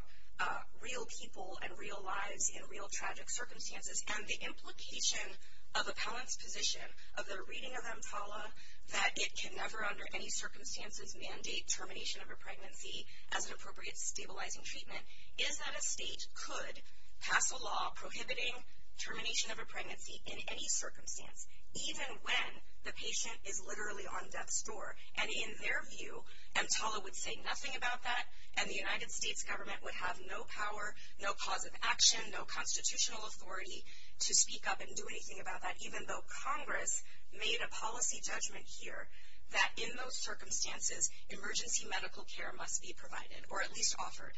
real people and real lives in real tragic circumstances. And the implication of appellants' position of their reading of EMTALA, that it can never under any circumstances mandate termination of a pregnancy as an appropriate stabilizing treatment, is that a state could pass a law prohibiting termination of a pregnancy in any circumstance, even when the patient is literally on death's door. And in their view, EMTALA would say nothing about that, and the United States government would have no power, no cause of action, no constitutional authority to speak up and do anything about that, even though Congress made a policy judgment here that in those circumstances, emergency medical care must be provided, or at least offered.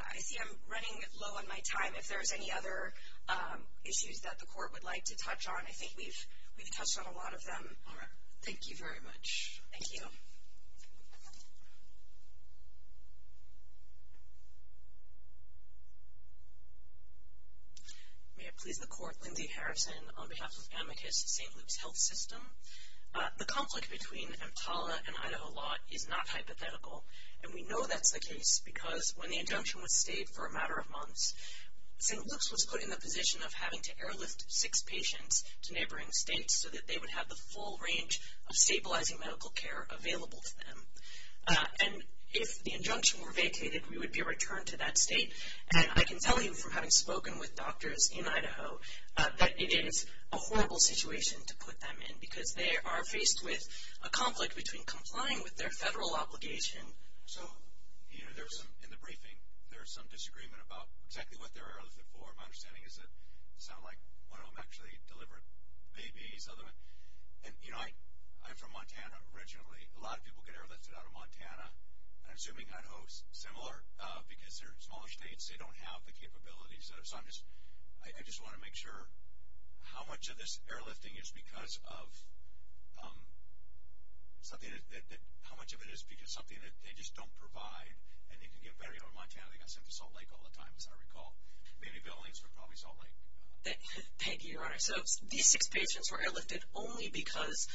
I see I'm running low on my time. If there's any other issues that the court would like to touch on, I think we've touched on a lot of them. All right. Thank you very much. Thank you. May it please the Court, Lindsay Harrison of the House of Amicus, St. Luke's Health System. The conflict between EMTALA and Idaho law is not hypothetical, and we know that's the case because when the injunction was stayed for a matter of months, St. Luke's was put in the position of having to airlift six patients to neighboring states so that they would have the full range of stabilizing medical care available to them. And if the injunction were vacated, we would be returned to that state. And I can tell you from having spoken with doctors in Idaho that it is a horrible situation to put them in because they are faced with a conflict between complying with their federal obligation. So, you know, in the briefing, there's some disagreement about exactly what they're airlifting for. My understanding is that it sounded like one of them actually delivered babies. And, you know, I'm from Montana originally. A lot of people get airlifted out of Montana, and I'm assuming Idaho is similar, because they're in smaller states. They don't have the capability. So I just want to make sure how much of this airlifting is because of something that they just don't provide, and they can get better. You know, in Montana, they go to Salt Lake all the time, as I recall. Maybe the only answer is probably Salt Lake. Thank you, Your Honor. So these six patients were airlifted only because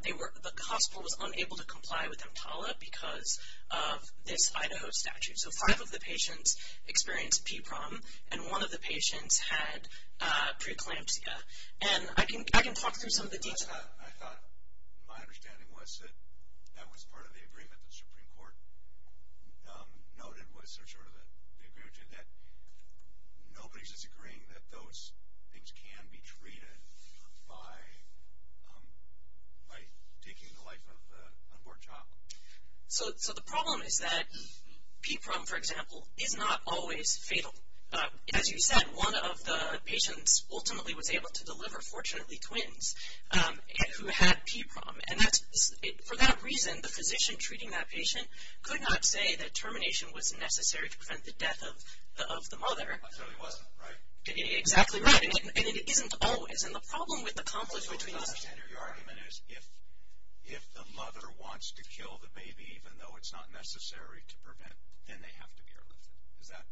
the hospital was unable to comply with EMTALA because of this Idaho statute. So five of the patients experienced PPROM, and one of the patients had preeclampsia. And I can talk through some of the details. I thought my understanding was that that was part of the agreement that the Supreme Court noted, was sort of the agreement that nobody's agreeing that those things can be treated by taking the life of a poor child. So the problem is that PPROM, for example, is not always fatal. As you said, one of the patients ultimately was able to deliver, fortunately, twins who had PPROM. And for that reason, the physician treating that patient could not say that termination was necessary to prevent the death of the mother. So it wasn't, right? Exactly right. And it isn't always. And the problem with the confluence between the two... Your argument is if the mother wants to kill the baby even though it's not necessary to prevent, then they have to be airlifted.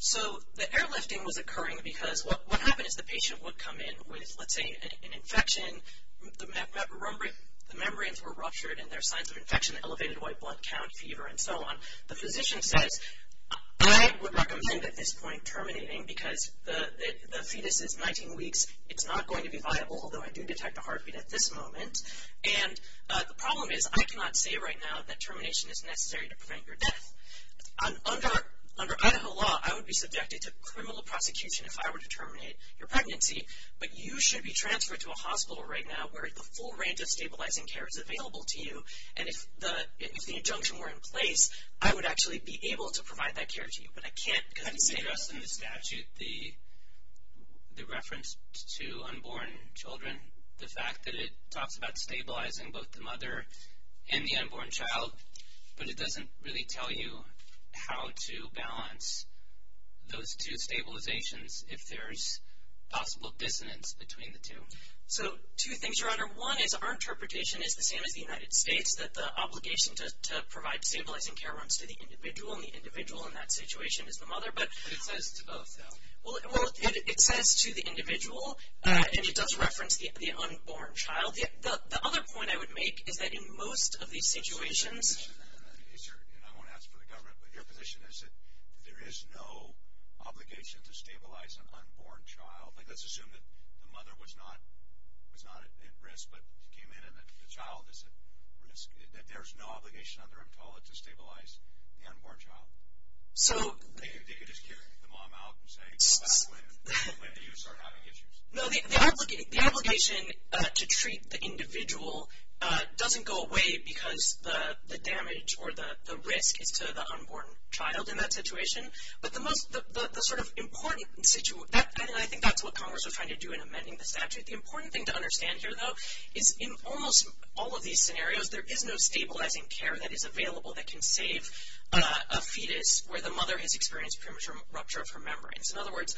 So the airlifting was occurring because what happens is the patient would come in with, let's say, an infection. The membranes were ruptured, and there's signs of infection, elevated white blood cells, fever, and so on. The physician said, I would recommend at this point terminating because the fetus is 19 weeks. It's not going to be viable, although I do detect a heartbeat at this moment. And the problem is I cannot say right now that termination is necessary to prevent your death. Under Idaho law, I would be subjected to criminal prosecution if I were to terminate your pregnancy, but you should be transferred to a hospital right now where the full range of stabilizing care is available to you. And if the injunction were in place, I would actually be able to provide that care to you, but I can't convey to us in the statute the reference to unborn children, the fact that it talks about stabilizing both the mother and the unborn child, but it doesn't really tell you how to balance those two stabilizations if there's possible dissonance between the two. So two things, Your Honor. One is our interpretation is the same as the United States, that the obligation to provide stabilizing care when it's to the individual, and the individual in that situation is the mother. But it says to both, though. Well, it says to the individual, and it does reference the unborn child. The other point I would make is that in most of these situations, I won't ask for the government, but your position is that there is no obligation to stabilize an unborn child. Like let's assume that the mother was not at risk, but she came in, and the child is at risk. There is no obligation under EMTALA to stabilize the unborn child. So they could just carry the mom out and say, well, that's the way that you sort of have to get used to. No, the obligation to treat the individual doesn't go away because the damage or the risk to the unborn child in that situation. I think that's what Congress was trying to do in amending the statute. The important thing to understand here, though, is in almost all of these scenarios, there is no stabilizing care that is available that can save a fetus where the mother has experienced premature rupture of her membranes. In other words,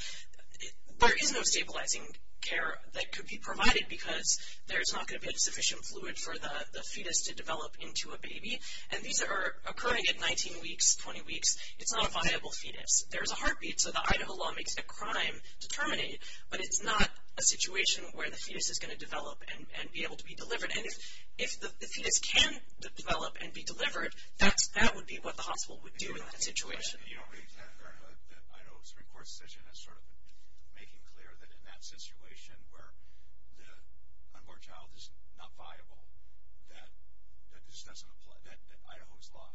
there is no stabilizing care that could be provided because there's not going to be sufficient fluid for the fetus to develop into a baby. And these are occurring at 19 weeks, 20 weeks. It's not a viable fetus. There's a heartbeat, so the Idaho law makes that crime determinate, but it's not a situation where the fetus is going to develop and be able to be delivered. And if the fetus can develop and be delivered, that would be what the hospital would do in that situation. The Idaho Supreme Court decision is sort of making clear that in that situation where the unborn child is not viable, that Idaho's law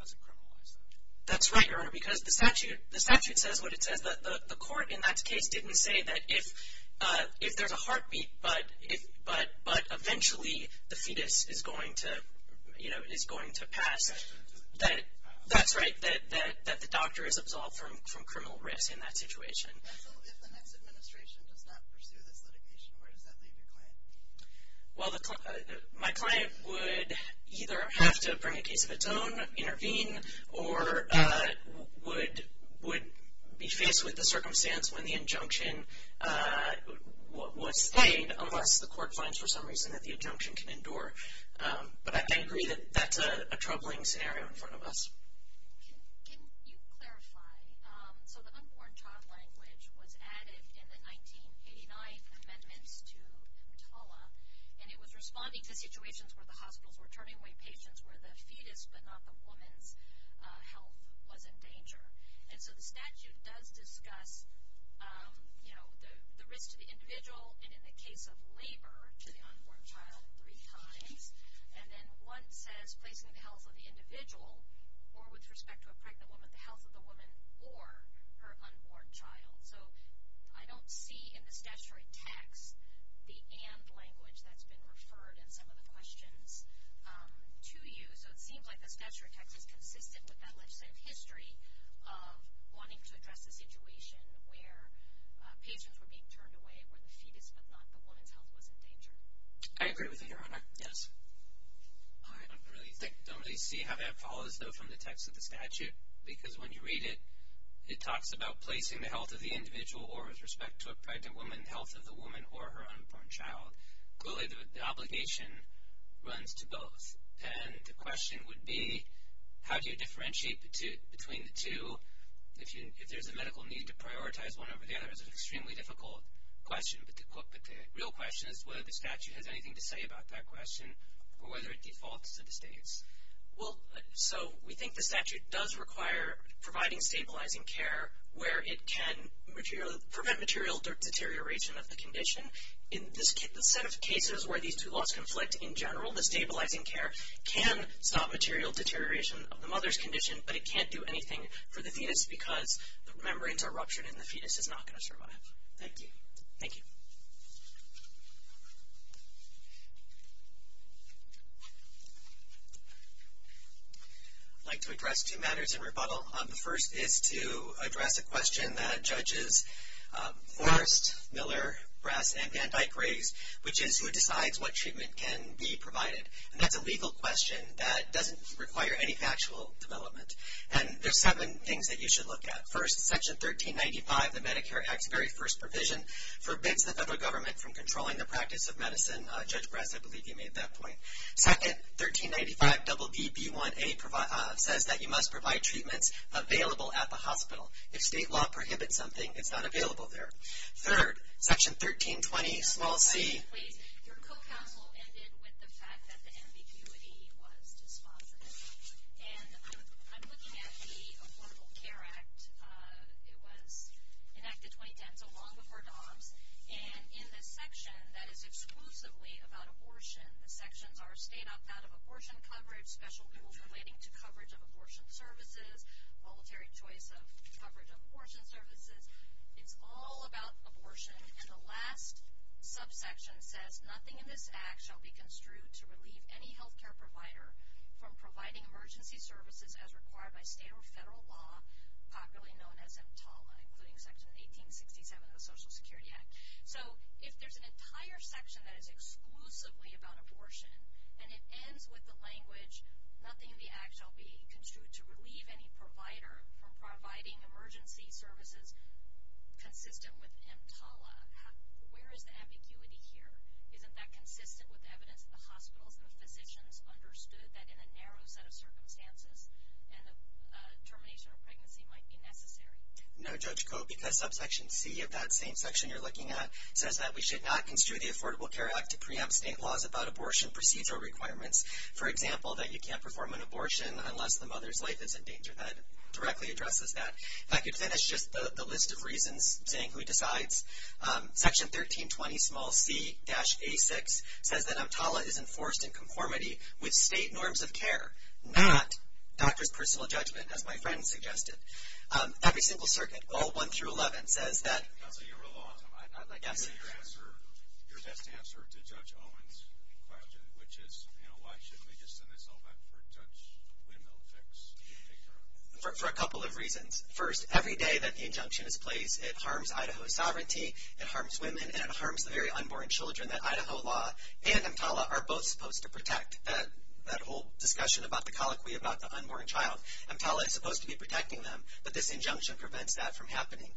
doesn't criminalize that. That's right, Your Honor, because the statute says what it says. The court in that case didn't say that if there's a heartbeat, but eventually the fetus is going to pass. That's right, that the doctor is absolved from criminal risk in that situation. So if the next administration does not pursue this litigation, where does that leave your client? Well, my client would either have to, for any case of its own, intervene or would be faced with the circumstance when the injunction was paid, unless the court finds for some reason that the injunction can endure. But I agree that that's a troubling scenario in front of us. Can you clarify? So the unborn child language was added in the 1989 amendment to EMTALA, and it was responding to situations where the hospitals were turning away patients where the fetus but not the woman health was in danger. And so the statute does discuss, you know, the risk to the individual and, in the case of labor, to the unborn child of three kinds. And then one says raising the health of the individual or, with respect to a pregnant woman, the health of the woman or her unborn child. So I don't see in the statutory text the and language that's been referred in some of the questions to you. So it seems like the statutory text is consistent with that legislative history of wanting to address the situation where patients were being turned away and where the fetus but not the woman health was in danger. I agree with you, Your Honor. Yes. I don't really see how that follows, though, from the text of the statute, because when you read it, it talks about placing the health of the individual or, with respect to a pregnant woman, the health of the woman or her unborn child. Equally, the obligation runs to both. And the question would be, how do you differentiate between the two? If there's a medical need to prioritize one over the other, it's an extremely difficult question. The real question is whether the statute has anything to say about that question or whether it gets all the statistics. So we think the statute does require providing stabilizing care where it can prevent material deterioration of the condition. In the set of cases where these two laws conflict, in general, the stabilizing care can stop material deterioration of the mother's condition, but it can't do anything for the fetus because the membranes are ruptured and the fetus is not going to survive. Thank you. Thank you. I'd like to address two matters in rebuttal. The first is to address a question that Judges Forrest, Miller, Brass, and Van Dyke raised, which is who decides what treatment can be provided. And that's a legal question that doesn't require any factual development. And there's seven things that you should look at. First, Section 1395, the Medicare Act's very first provision, forbids the federal government from controlling the practice of medicine. Judge Brass, I believe you made that point. Second, 1395, WB1A says that you must provide treatment available at the hospital. If state law prohibits something, it's not available there. Third, Section 1320, small c. Your co-counsel ended with the fact that the ambiguity was spotless. And I'm looking at the Affordable Care Act. It was enacted 2010, so long before DAWG. And in the section that is exclusively about abortion, the sections are state-outbound of abortion coverage, special privileges relating to coverage of abortion services, voluntary choice of coverage of abortion services. It's all about abortion. And the last subsection says, nothing in this Act shall be construed to relieve any health care provider from providing emergency services as required by state or federal law, popularly known as EMTALA, including Section 1867 of the Social Security Act. So if there's an entire section that is exclusively about abortion, and it ends with the language, nothing in the Act shall be construed to relieve any provider from providing emergency services consistent with EMTALA. Where is the ambiguity here? Isn't that consistent with evidence the hospitals and physicians understood that in a narrow set of circumstances, termination of pregnancy might be necessary? No, Judge Copey, that subsection c of that same section you're looking at says that we should not construe the Affordable Care Act to preempt state laws about abortion procedure requirements. For example, that you can't perform an abortion unless the mother's life is in danger. That directly addresses that. I could finish just the list of reasons, saying we decide. Section 1320, small c, dash a6, says that EMTALA is enforced in conformity with state norms of care, not Dr.'s personal judgment, as my friend suggested. Every single circuit, all one through 11, says that. I don't think you were lost on that. Your best answer to Judge Owen's question, which is why shouldn't we just send this all back to Judge Wendell? For a couple of reasons. First, every day that the injunction is placed, it harms Idaho's sovereignty, it harms women, and it harms the very unborn children that Idaho law and EMTALA are both supposed to protect. That whole discussion about the colloquy about the unborn child, EMTALA is supposed to be protecting them, but this injunction prevents that from happening.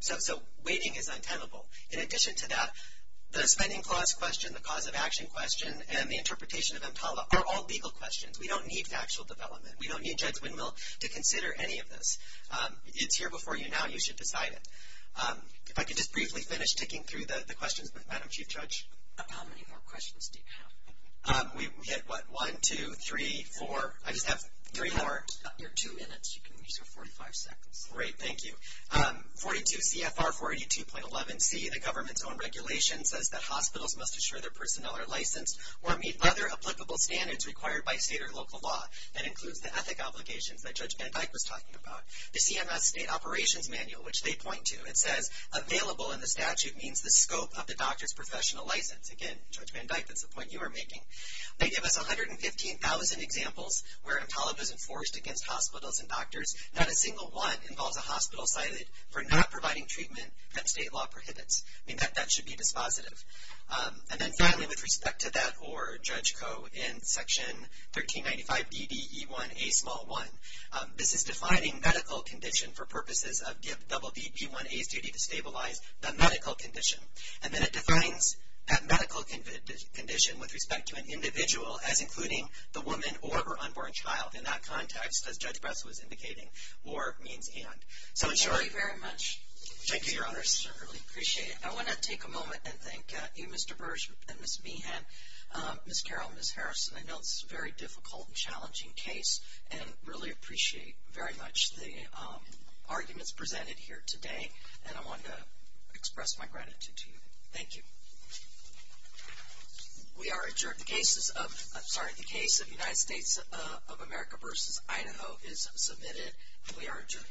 So waiting is untenable. In addition to that, the spending clause question, the positive action question, and the interpretation of EMTALA are all legal questions. We don't need actual development. We don't need Judge Wendell to consider any of this. It's here before you now. You should decide it. If I could just briefly finish sticking through the questions with Madam Chief Judge. How many more questions do you have? We have, what, one, two, three, four. I just have three more. You're two minutes. You can use your 45 seconds. Thank you. 42 CFR 482.11C, the government's own regulation, says that hospitals must assure their personnel are licensed or meet other applicable standards required by state or local law. That includes the ethic obligations that Judge Van Dyke was talking about. The CMS state operations manual, which they point to, it says, available in the statute means the scope of the doctor's professional license. Again, Judge Van Dyke, that's the point you were making. They give us 115,000 examples where a college is enforced against hospitals and doctors, not a single one involves a hospital cited for not providing treatment that state law prohibits. In fact, that should be dispositive. And then finally, with respect to that or Judge Coe in Section 1395BDE1A1, this is defining medical condition for purposes of WBDE1A to stabilize the medical condition. And then it defines that medical condition with respect to an individual as including the woman or her unborn child in that context, as Judge Bess was indicating, or me and Dan. So, Jody, very much. Thank you, Your Honors. I really appreciate it. I want to take a moment and thank you, Mr. Burge and Ms. Behan, Ms. Carroll and Ms. Harrison. I know this is a very difficult and challenging case and really appreciate very much the arguments presented here today. And I want to express my gratitude to you. Thank you. We are adjourned. The case of the United States of America v. Idaho is submitted. We are adjourned. All rise.